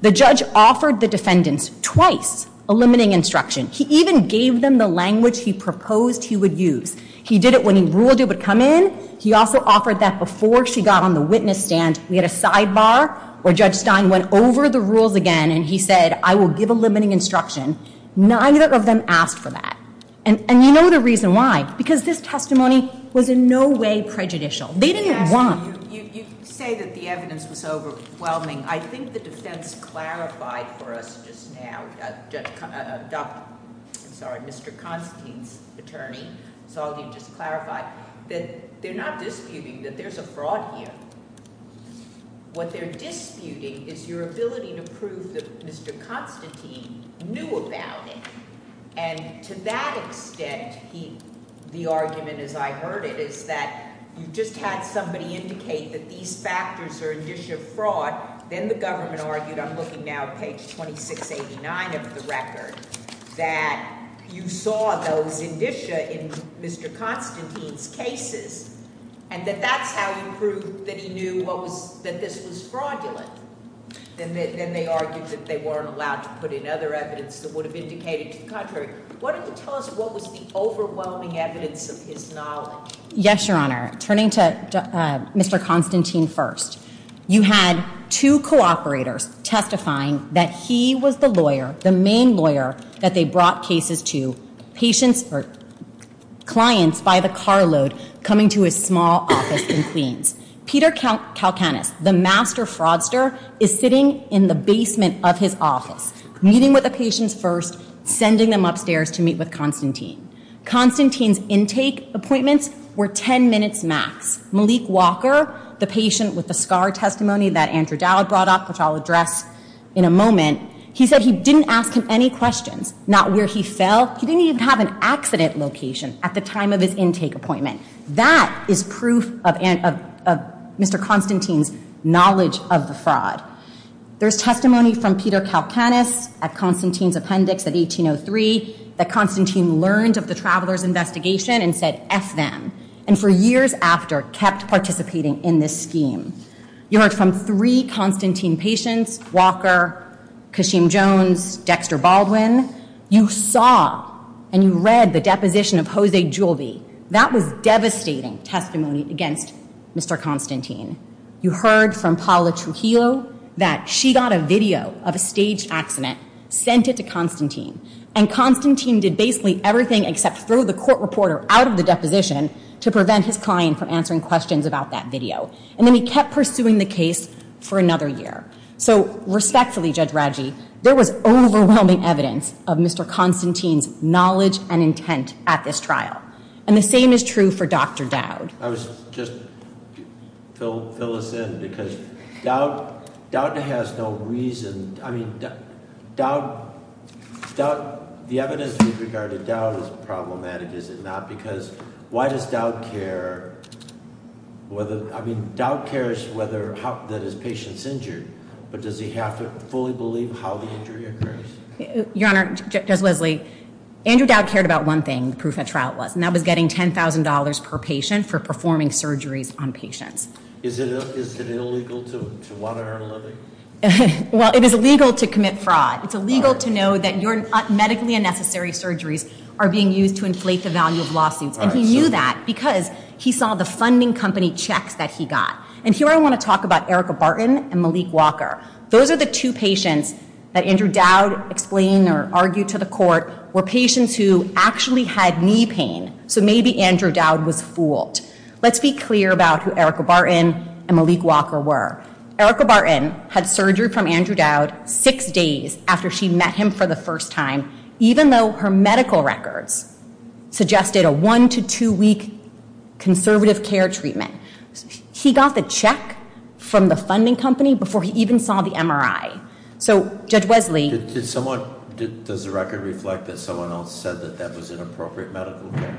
the judge offered the defendants twice a limiting instruction. He even gave them the language he proposed he would use. He did it when he ruled it would come in. He also offered that before she got on the witness stand. We had a sidebar where Judge Stein went over the rules again and he said, I will give a limiting instruction. Neither of them asked for that. And you know the reason why. Because this testimony was in no way prejudicial. They didn't want... Well, you say that the evidence was overwhelming. I think the defense clarified for us just now, Mr. Constantine's attorney, that they're not disputing that there's a fraud here. What they're disputing is your ability to prove that Mr. Constantine knew about it. And to that extent, the argument as I heard it, is that you just had somebody indicate that these factors are indicia of fraud. Then the government argued, I'm looking now at page 2689 of the record, that you saw those indicia in Mr. Constantine's cases, and that that's how you proved that he knew that this was fraudulent. Then they argued that they weren't allowed to put in other evidence that would have indicated to the contrary. Why don't you tell us what was the overwhelming evidence of his knowledge? Yes, Your Honor. Turning to Mr. Constantine first. You had two cooperators testifying that he was the lawyer, the main lawyer, that they brought cases to, patients or clients by the carload coming to his small office in Queens. Peter Kalkanis, the master fraudster, is sitting in the basement of his office, meeting with the patients first, sending them upstairs to meet with Constantine. Constantine's intake appointments were 10 minutes max. Malik Walker, the patient with the scar testimony that Andrew Dowd brought up, which I'll address in a moment, he said he didn't ask him any questions, not where he fell. He didn't even have an accident location at the time of his intake appointment. That is proof of Mr. Constantine's knowledge of the fraud. There's testimony from Peter Kalkanis at Constantine's appendix at 1803 that Constantine learned of the traveler's investigation and said, F them, and for years after, kept participating in this scheme. You heard from three Constantine patients, Walker, Kashim Jones, Dexter Baldwin. You saw and you read the deposition of Jose Juleby. That was devastating testimony against Mr. Constantine. You heard from Paula Trujillo that she got a video of a staged accident, sent it to Constantine, and Constantine did basically everything except throw the court reporter out of the deposition to prevent his client from answering questions about that video. And then he kept pursuing the case for another year. So respectfully, Judge Radji, there was overwhelming evidence of Mr. Constantine's knowledge and intent at this trial. And the same is true for Dr. Dowd. I was just, fill us in, because Dowd has no reason, I mean, Dowd, the evidence we've regarded Dowd as problematic, is it not? Because why does Dowd care, whether, I mean, Dowd cares whether, that his patient's injured, but does he have to fully believe how the injury occurs? Your Honor, Judge Leslie, Andrew Dowd cared about one thing, the proof at trial was. And that was getting $10,000 per patient for performing surgeries on patients. Is it illegal to want to earn a living? Well, it is illegal to commit fraud. It's illegal to know that your medically unnecessary surgeries are being used to inflate the value of lawsuits. And he knew that because he saw the funding company checks that he got. And here I want to talk about Erica Barton and Malik Walker. Those are the two patients that Andrew Dowd explained or argued to the court were patients who actually had knee pain. So maybe Andrew Dowd was fooled. Let's be clear about who Erica Barton and Malik Walker were. Erica Barton had surgery from Andrew Dowd six days after she met him for the first time, even though her medical records suggested a one to two week conservative care treatment. He got the check from the funding company before he even saw the MRI. So, Judge Wesley- Does the record reflect that someone else said that that was inappropriate medical care?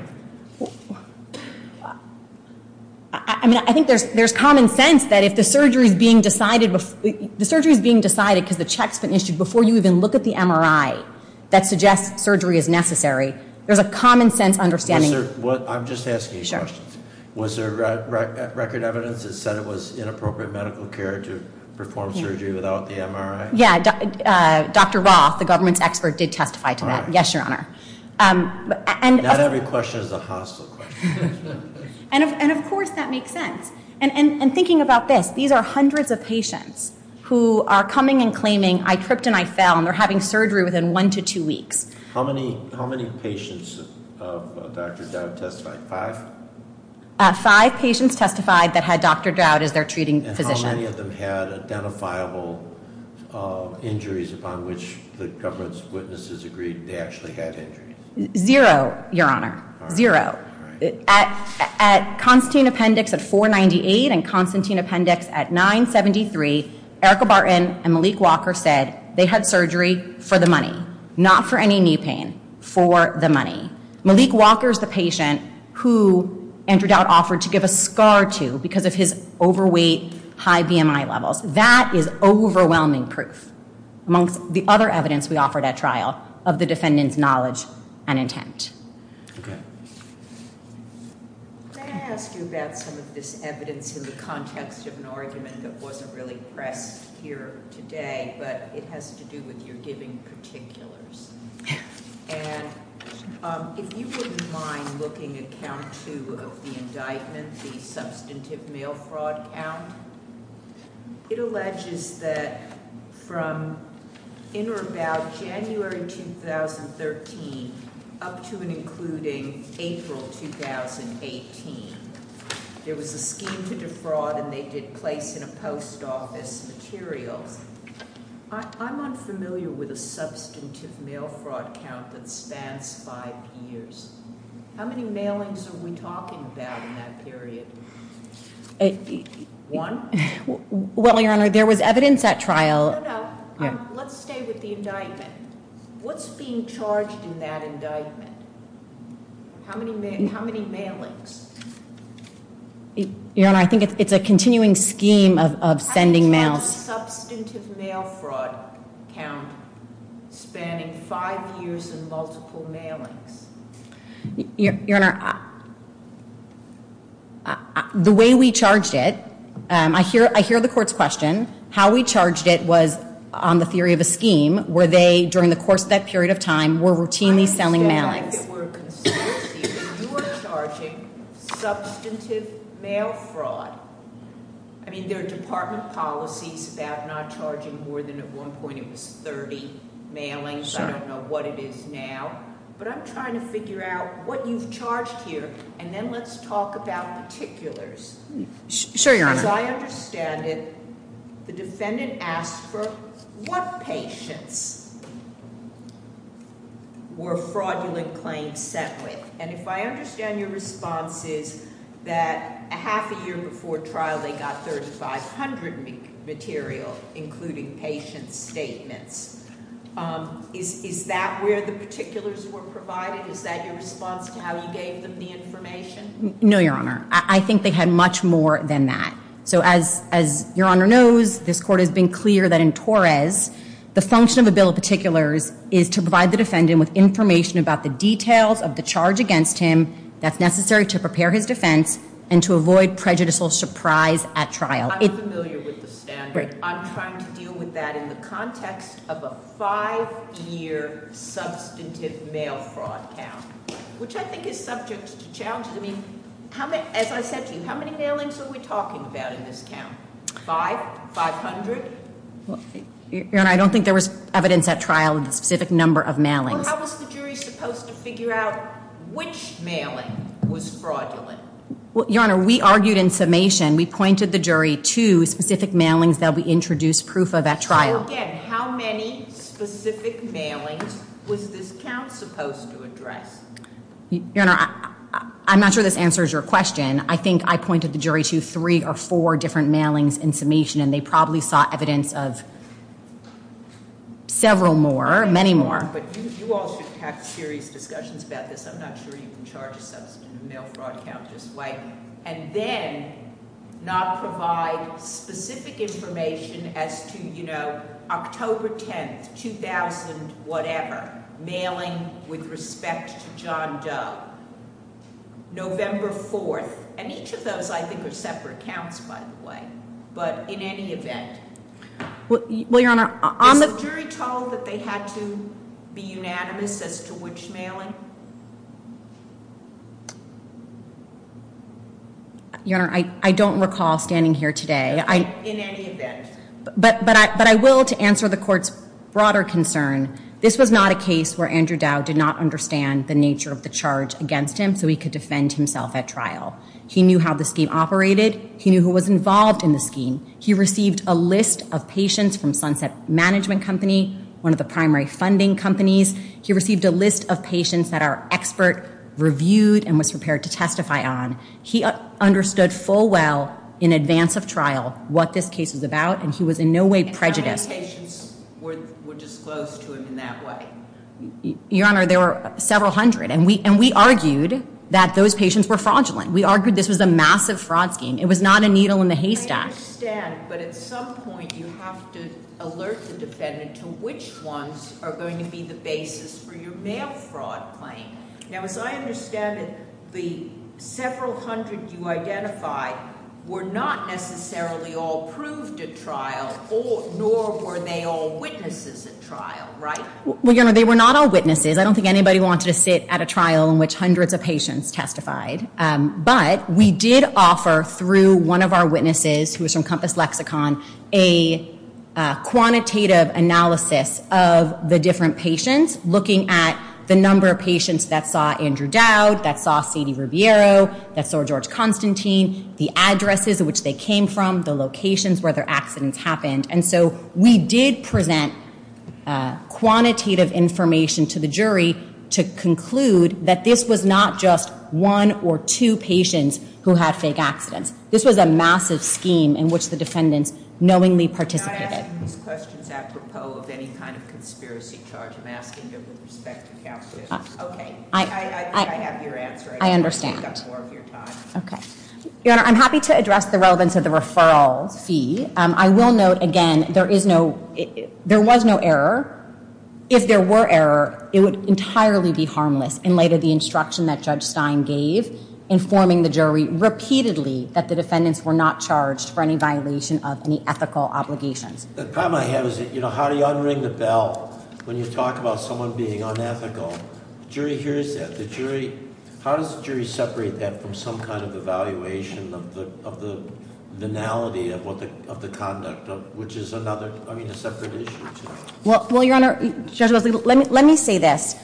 I mean, I think there's common sense that if the surgery is being decided because the check's been issued before you even look at the MRI that suggests surgery is necessary, there's a common sense understanding. I'm just asking a question. Was there record evidence that said it was inappropriate medical care to perform surgery without the MRI? Yeah, Dr. Roth, the government's expert, did testify to that. Yes, Your Honor. Not every question is a hostile question. And of course that makes sense. And thinking about this, these are hundreds of patients who are coming and claiming I tripped and I fell and they're having surgery within one to two weeks. How many patients of Dr. Dowd testified? Five? Five patients testified that had Dr. Dowd as their treating physician. And how many of them had identifiable injuries upon which the government's witnesses agreed they actually had injuries? Zero, Your Honor. Zero. At Constantine Appendix at 498 and Constantine Appendix at 973, Erica Barton and Malik Walker said they had surgery for the money, not for any knee pain, for the money. Malik Walker's the patient who Andrew Dowd offered to give a scar to because of his overweight, high BMI levels. That is overwhelming proof, amongst the other evidence we offered at trial, of the defendant's knowledge and intent. Okay. May I ask you about some of this evidence in the context of an argument that wasn't really pressed here today, but it has to do with your giving particulars. And if you wouldn't mind looking at count two of the indictment, the substantive mail fraud count, it alleges that from in or about January 2013 up to and including April 2018, there was a scheme to defraud and they did place in a post office materials. I'm unfamiliar with a substantive mail fraud count that spans five years. How many mailings are we talking about in that period? One? Well, Your Honor, there was evidence at trial. No, no. Let's stay with the indictment. What's being charged in that indictment? How many mailings? Your Honor, I think it's a continuing scheme of sending mail. How do you know the substantive mail fraud count spanning five years and multiple mailings? Your Honor, the way we charged it, I hear the court's question. How we charged it was on the theory of a scheme where they, during the course of that period of time, were routinely selling mailings. You're charging substantive mail fraud. I mean, there are department policies about not charging more than at one point it was 30 mailings. I don't know what it is now. But I'm trying to figure out what you've charged here and then let's talk about particulars. As I understand it, the defendant asked for what patients were fraudulent claims sent with? And if I understand your response is that half a year before trial they got 3,500 material, including patient statements. Is that where the particulars were provided? Is that your response to how you gave them the information? No, Your Honor. I think they had much more than that. As Your Honor knows, this court has been clear that in Torres the function of a bill of particulars is to provide the defendant with information about the details of the charge against him that's necessary to prepare his defense and to avoid prejudicial surprise at trial. I'm trying to deal with that in the context of a five-year substantive mail fraud count, which I think is subject to challenges. As I said to you, how many mailings are we talking about in this count? Five? Five hundred? Your Honor, I don't think there was evidence at trial of the specific number of mailings. How was the jury supposed to figure out which mailing was fraudulent? Your Honor, we argued in summation. We pointed the jury to specific mailings that we introduced proof of at trial. So again, how many specific mailings was this count supposed to address? Your Honor, I'm not sure this answers your question. I think I pointed the jury to three or four different mailings in summation and they probably saw evidence of several more, many more. But you all should have serious discussions about this. I'm not sure you can charge a substantive mail fraud count this way and then not provide specific information as to, you know, October 10th, 2000-whatever, mailing with respect to John Doe, November 4th, and each of those I think are separate counts, by the way. But in any event, is the jury told that they had to be unanimous as to which mailing? Your Honor, I don't recall standing here today. In any event. But I will, to answer the Court's broader concern, this was not a case where Andrew Dow did not understand the nature of the charge against him so he could defend himself at trial. He knew how the scheme operated. He knew who was involved in the scheme. He received a list of patients from Sunset Management Company, one of the primary funding companies. He received a list of patients that our expert reviewed and was prepared to testify on. He understood full well in advance of trial what this case was about and he was in no way prejudiced. And how many patients were disclosed to him in that way? Your Honor, there were several hundred and we argued that those patients were fraudulent. We argued this was a massive fraud scheme. It was not a needle in the haystack. I understand, but at some point you have to alert the defendant to which ones are going to be the basis for your mail fraud claim. Now as I understand it, the several hundred you identified were not necessarily all proved at trial, nor were they all witnesses at trial, right? Your Honor, they were not all witnesses. I don't think anybody wanted to sit at a trial in which hundreds of patients testified, but we did offer through one of our witnesses, who was from Compass Lexicon, a quantitative analysis of the different patients, looking at the number of patients that saw Andrew Dowd, that saw Sadie Rubiero, that saw George Constantine, the addresses at which they came from, the locations where their accidents happened. And so we did present quantitative information to the jury to conclude that this was not just one or two patients who had fake accidents. This was a massive scheme in which the defendants knowingly participated. I'm not asking these questions apropos of any kind of conspiracy charge. I'm asking them with respect to CalPERS. Okay. I have your answer. I understand. I don't want to take up more of your time. Okay. Your Honor, I'm happy to address the relevance of the referral fee. I will note, again, there was no error. If there were error, it would entirely be harmless in light of the instruction that Judge Stein gave informing the jury repeatedly that the defendants were not charged for any violation of any ethical obligations. The problem I have is that, you know, how do you unring the bell when you talk about someone being unethical? The jury hears that. The jury, how does the jury separate that from some kind of evaluation of the venality of what the, of the conduct of, which is another, I mean, a well, your Honor, Judge Leslie, let me say this.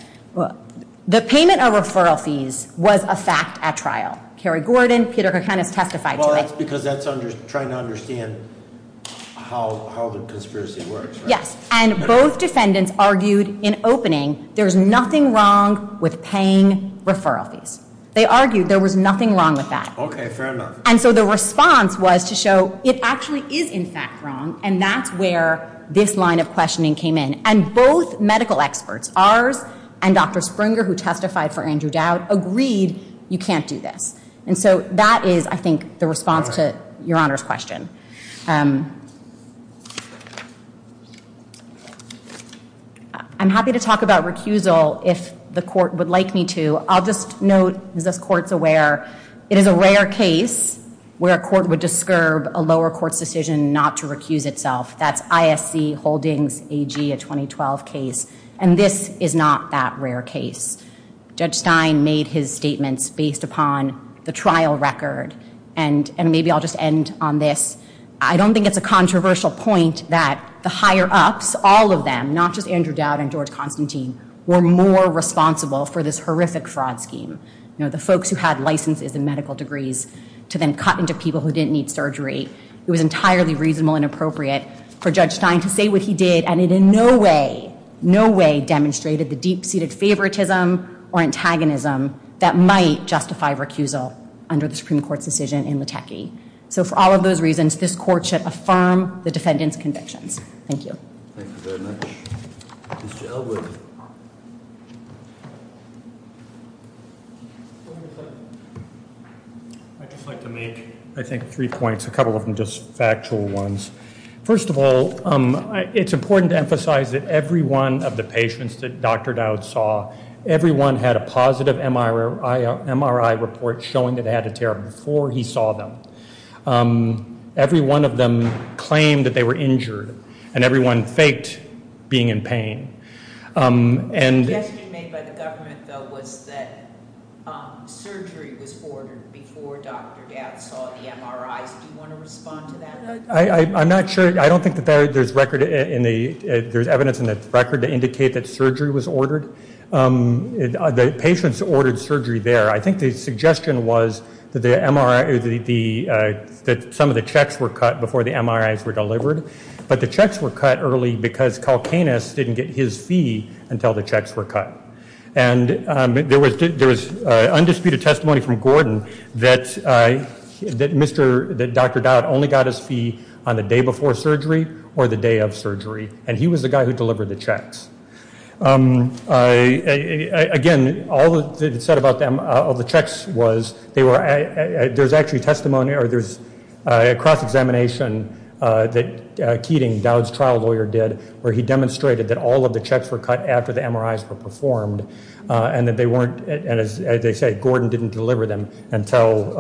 The payment of referral fees was a fact at trial. Kerry Gordon, Peter Kokanis testified to it. Well, that's because that's trying to understand how the conspiracy works, right? Yes. And both defendants argued in opening, there's nothing wrong with paying referral fees. They argued there was nothing wrong with that. Okay, fair enough. And so the response was to show it actually is in fact wrong, and that's where this line of questioning came in. And both medical experts, ours and Dr. Springer, who testified for Andrew Dowd, agreed you can't do this. And so that is, I think, the response to your Honor's question. I'm happy to talk about recusal if the court would like me to. I'll just note, as this court's aware, it is a rare case where a court would discurb a lower court's decision not to recuse itself. That's ISC Holdings AG, a 2012 case. And this is not that rare case. Judge Stein made his statements based upon the trial record. And maybe I'll just end on this. I don't think it's a controversial point that the higher ups, all of them, not just Andrew Dowd and George Constantine, were more responsible for this horrific fraud scheme. You know, the folks who had licenses and medical degrees to then cut into people who didn't need surgery. It was for Judge Stein to say what he did, and it in no way, no way, demonstrated the deep-seated favoritism or antagonism that might justify recusal under the Supreme Court's decision in Latecky. So for all of those reasons, this court should affirm the defendant's convictions. Thank you. I'd just like to make, I think, three points, a couple of them just factual ones. First of all, it's important to emphasize that every one of the patients that Dr. Dowd saw, everyone had a positive MRI report showing that they had a tear up before he saw them. Every one of them claimed that they were injured. And everyone faked being in pain. The suggestion made by the government, though, was that surgery was ordered before Dr. Dowd saw the MRIs. Do you want to respond to that? I'm not sure. I don't think that there's record in the, there's evidence in the record to indicate that surgery was ordered. The patients ordered surgery there. I think the suggestion was that the MRI, that some of the checks were cut before the MRIs were delivered. But the checks were cut early because Calcanus didn't get his fee until the checks were cut. And there was undisputed testimony from Gordon that Dr. Dowd only got his fee on the day before surgery or the day of surgery. And he was the guy who delivered the checks. Again, all that's said about the checks was they were, there's actually testimony, or there's a cross-examination that Keating, Dowd's trial lawyer, did where he demonstrated that all of the checks were cut after the MRIs were performed and that they weren't, and as they say, Gordon didn't deliver them until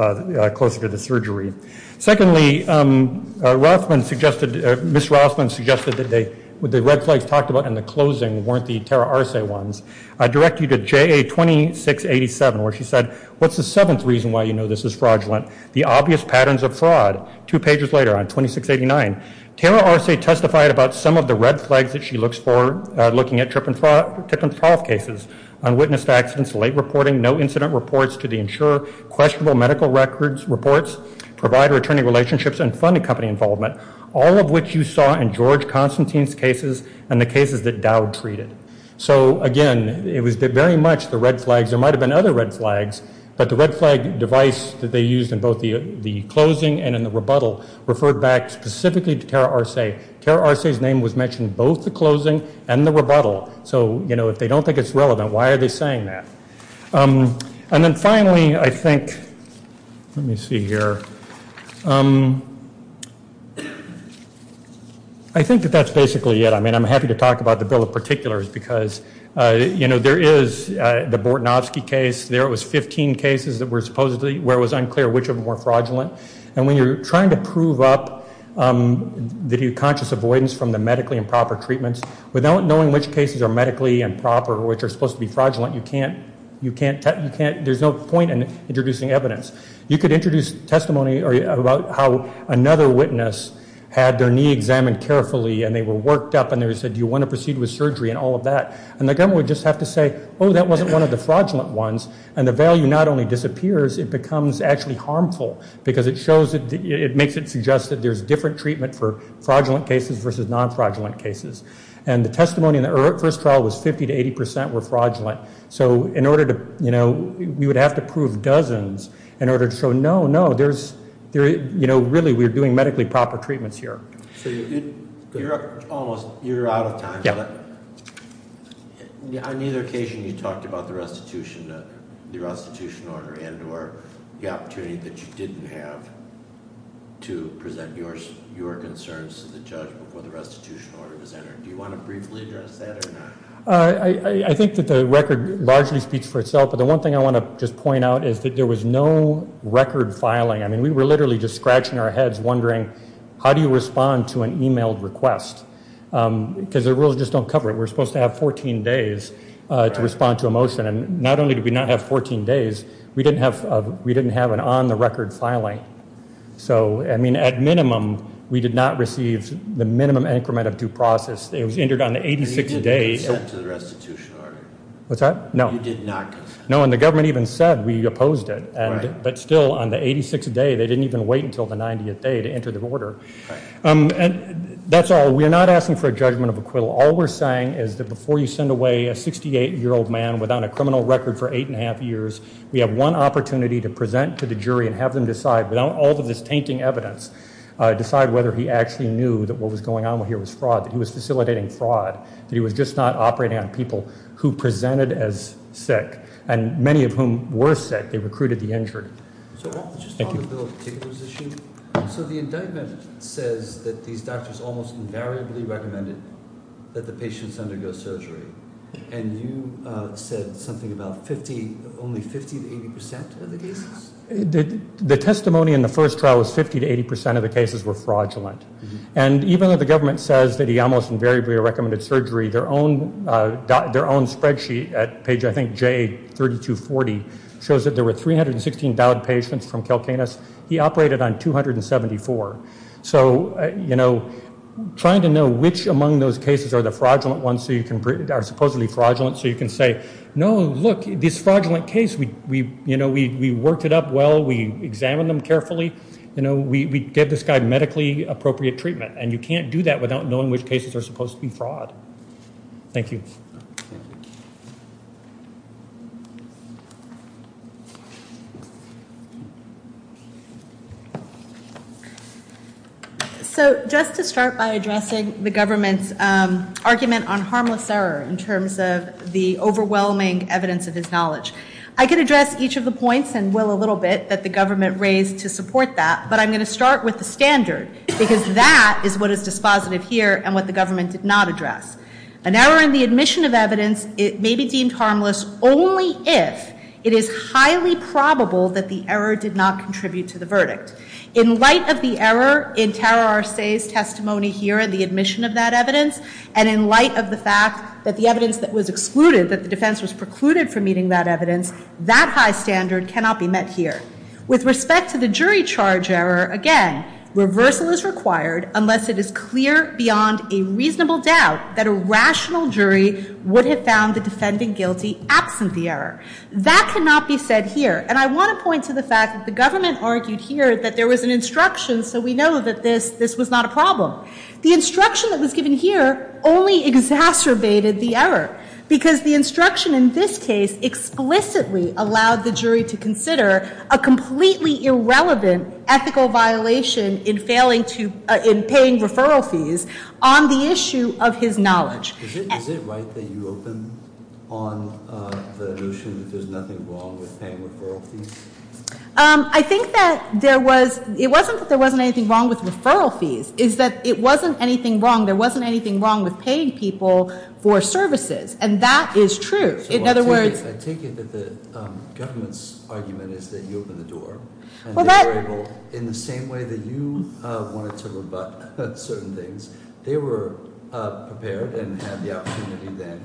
closer to the surgery. Secondly, Rousman suggested, Ms. Rousman suggested that they, the red flags talked about in the closing weren't the Tara Arce ones. I direct you to JA-2687 where she said, what's the seventh reason why you know this is fraudulent? The obvious patterns of fraud. Two pages later on 2689, Tara Arce testified about some of the red flags that she looks for looking at Tripp and Trauf cases, unwitnessed accidents, late reporting, no incident reports to the insurer, questionable medical records, reports, provider-attorney relationships, and funding company involvement, all of which you saw in George Constantine's cases and the cases that Dowd treated. So, again, it was very much the red flags. There might have been other red flags, but the red flag device that they used in both the closing and in the rebuttal referred back specifically to Tara Arce. Tara Arce's name was mentioned in both the closing and the rebuttal. So, you know, if they don't think it's relevant, why are they saying that? And then, finally, I think, let me see here. I think that that's basically it. I mean, I'm happy to talk about the bill in particular because, you know, there is the Bortnowski case. There was 15 cases that were supposedly where it was unclear which of them were fraudulent. And when you're trying to prove up the conscious avoidance from the medically improper treatments, without knowing which cases are medically improper which are supposed to be fraudulent, you can't there's no point in introducing evidence. You could introduce testimony about how another witness had their knee examined carefully and they were worked up and they said, do you want to proceed with surgery and all of that. And the government would just have to say, oh, that wasn't one of the fraudulent ones. And the value not only disappears, it becomes actually harmful because it shows it makes it suggest that there's different treatment for fraudulent cases versus non fraudulent cases. And the testimony in the first trial was 50 to 80% were fraudulent. So in order to, you know, we would have to prove dozens in order to show no, no, there's, you know, really we're doing medically proper treatments here. So you're almost you're out of time. On either occasion you talked about the restitution the restitution order and or the opportunity that you didn't have to present your concerns to the judge before the restitution order was entered. Do you want to briefly address that or not? I think that the record largely speaks for itself. But the one thing I want to just point out is that there was no record filing. I mean, we were literally just scratching our heads wondering, how do you respond to an emailed request? Because the rules just don't cover it. We're supposed to have 14 days to respond to a motion. And not only did we not have 14 days, we didn't have an on-the-record filing. So, I mean, at minimum we did not receive the minimum increment of due process. It was entered on the 86th day. You did not consent to the restitution order. What's that? No. You did not consent. No, and the government even said we opposed it. But still, on the 86th day, they didn't even wait until the 90th day to enter the order. That's all. We're not asking for a judgment of acquittal. All we're saying is that before you send away a 68-year-old man without a criminal record for eight and a half years we have one opportunity to present to the jury and have them decide, without all of this tainting evidence, decide whether he actually knew that what was going on here was fraud, that he was facilitating fraud, that he was just not operating on people who presented as sick and many of whom were sick. They recruited the injured. Thank you. So the indictment says that these doctors almost invariably recommended that the patients undergo surgery. And you said something about only 50-80% of the cases? The testimony in the first trial was 50-80% of the cases were fraudulent. And even though the government says that he almost invariably recommended surgery, their own spreadsheet at page, I think, J3240 shows that there were 316 dialed patients from Calcanus. He operated on 274. So, you know, trying to know which among those cases are the fraudulent ones so you can are supposedly fraudulent so you can say, no, look, this fraudulent case, you know, we worked it up well, we examined them carefully, you know, we gave this guy medically appropriate treatment. And you can't do that without knowing which cases are supposed to be fraud. Thank you. So just to start by addressing the government's argument on harmless error in terms of the overwhelming evidence of his knowledge. I could address each of the points and will a little bit that the government raised to support that. But I'm going to start with the standard. Because that is what is dispositive here and what the government did not address. An error in the admission of evidence may be deemed harmless only if it is highly probable that the error did not contribute to the verdict. In light of the error in Tara Arce's testimony here and the admission of that evidence and in light of the fact that the evidence that was excluded, that the defense was precluded from meeting that evidence, that high standard cannot be met here. With respect to the jury charge error, again, reversal is required unless it is clear beyond a reasonable doubt that a rational jury would have found the defendant guilty absent the error. That cannot be said here. And I want to point to the fact that the government argued here that there was an instruction so we know that this was not a problem. The instruction that was given here only exacerbated the error because the instruction in this case explicitly allowed the jury to consider a completely irrelevant ethical violation in paying referral fees on the issue of his knowledge. Is it right that you open on the notion that there's nothing wrong with paying referral fees? I think that there was, it wasn't that there wasn't anything wrong with referral fees, it's that it wasn't anything wrong, there wasn't anything wrong with paying people for services and that is true. In other words... I take it that the government's argument is that you opened the door and they were able, in the same way that you wanted to rebut certain things, they were prepared and had the opportunity then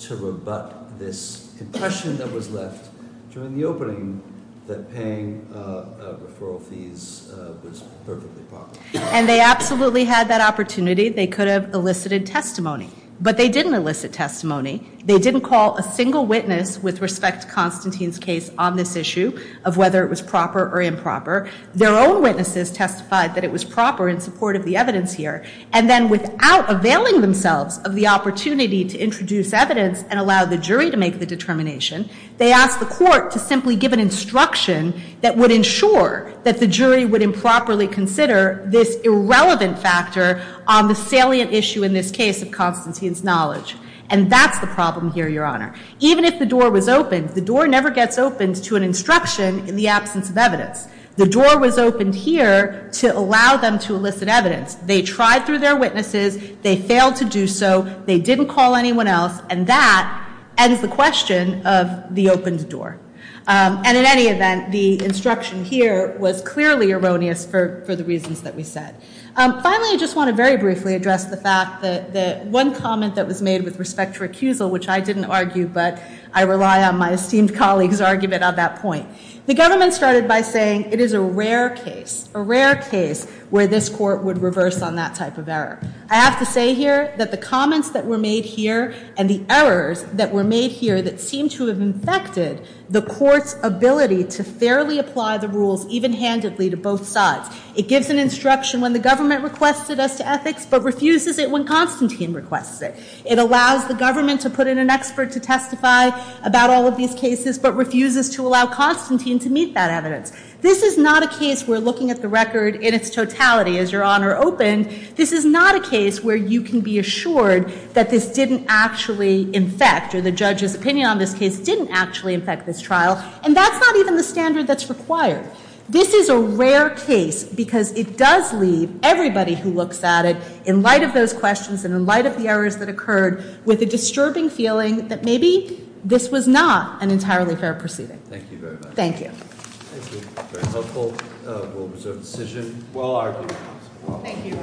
to rebut this impression that was left during the opening that paying referral fees was perfectly proper. And they absolutely had that opportunity. They could have elicited testimony but they didn't elicit testimony. They didn't call a single witness with respect to Constantine's case on this issue of whether it was proper or improper. Their own witnesses testified that it was proper in support of the evidence here and then without availing themselves of the opportunity to introduce evidence and allow the jury to make the determination, they asked the court to simply give an instruction that would ensure that the jury would improperly consider this irrelevant factor on the salient issue in this case of Constantine's knowledge. And that's the problem here, Your Honor. Even if the door was opened, the door never gets opened to an instruction in the absence of evidence. The door was opened here to allow them to elicit evidence. They tried through their witnesses, they failed to do so, they didn't call anyone else, and that ends the question of the opened door. And in any event, the instruction here was clearly erroneous for the reasons that we said. Finally, I just want to very briefly address the fact that one comment that was made with respect to recusal, which I didn't argue but I rely on my esteemed colleague's argument on that point. The government started by saying it is a rare case, a rare case where this court would reverse on that type of error. I have to say here that the comments that were made here and the errors that were made here that seem to have infected the court's ability to fairly apply the rules even-handedly to both sides. It gives an instruction when the government requested us to ethics, but refuses it when Constantine requests it. It allows the government to put in an expert to testify about all of these cases, but refuses to allow Constantine to meet that evidence. This is not a case where, looking at the record in its totality as Your Honor opened, this is not a case where you can be assured that this didn't actually infect or the judge's opinion on this case didn't actually infect this trial and that's not even the standard that's required. This is a rare case because it does leave everybody who looks at it in light of those questions and in light of the errors that occurred with a disturbing feeling that maybe this was not an entirely fair proceeding. Thank you.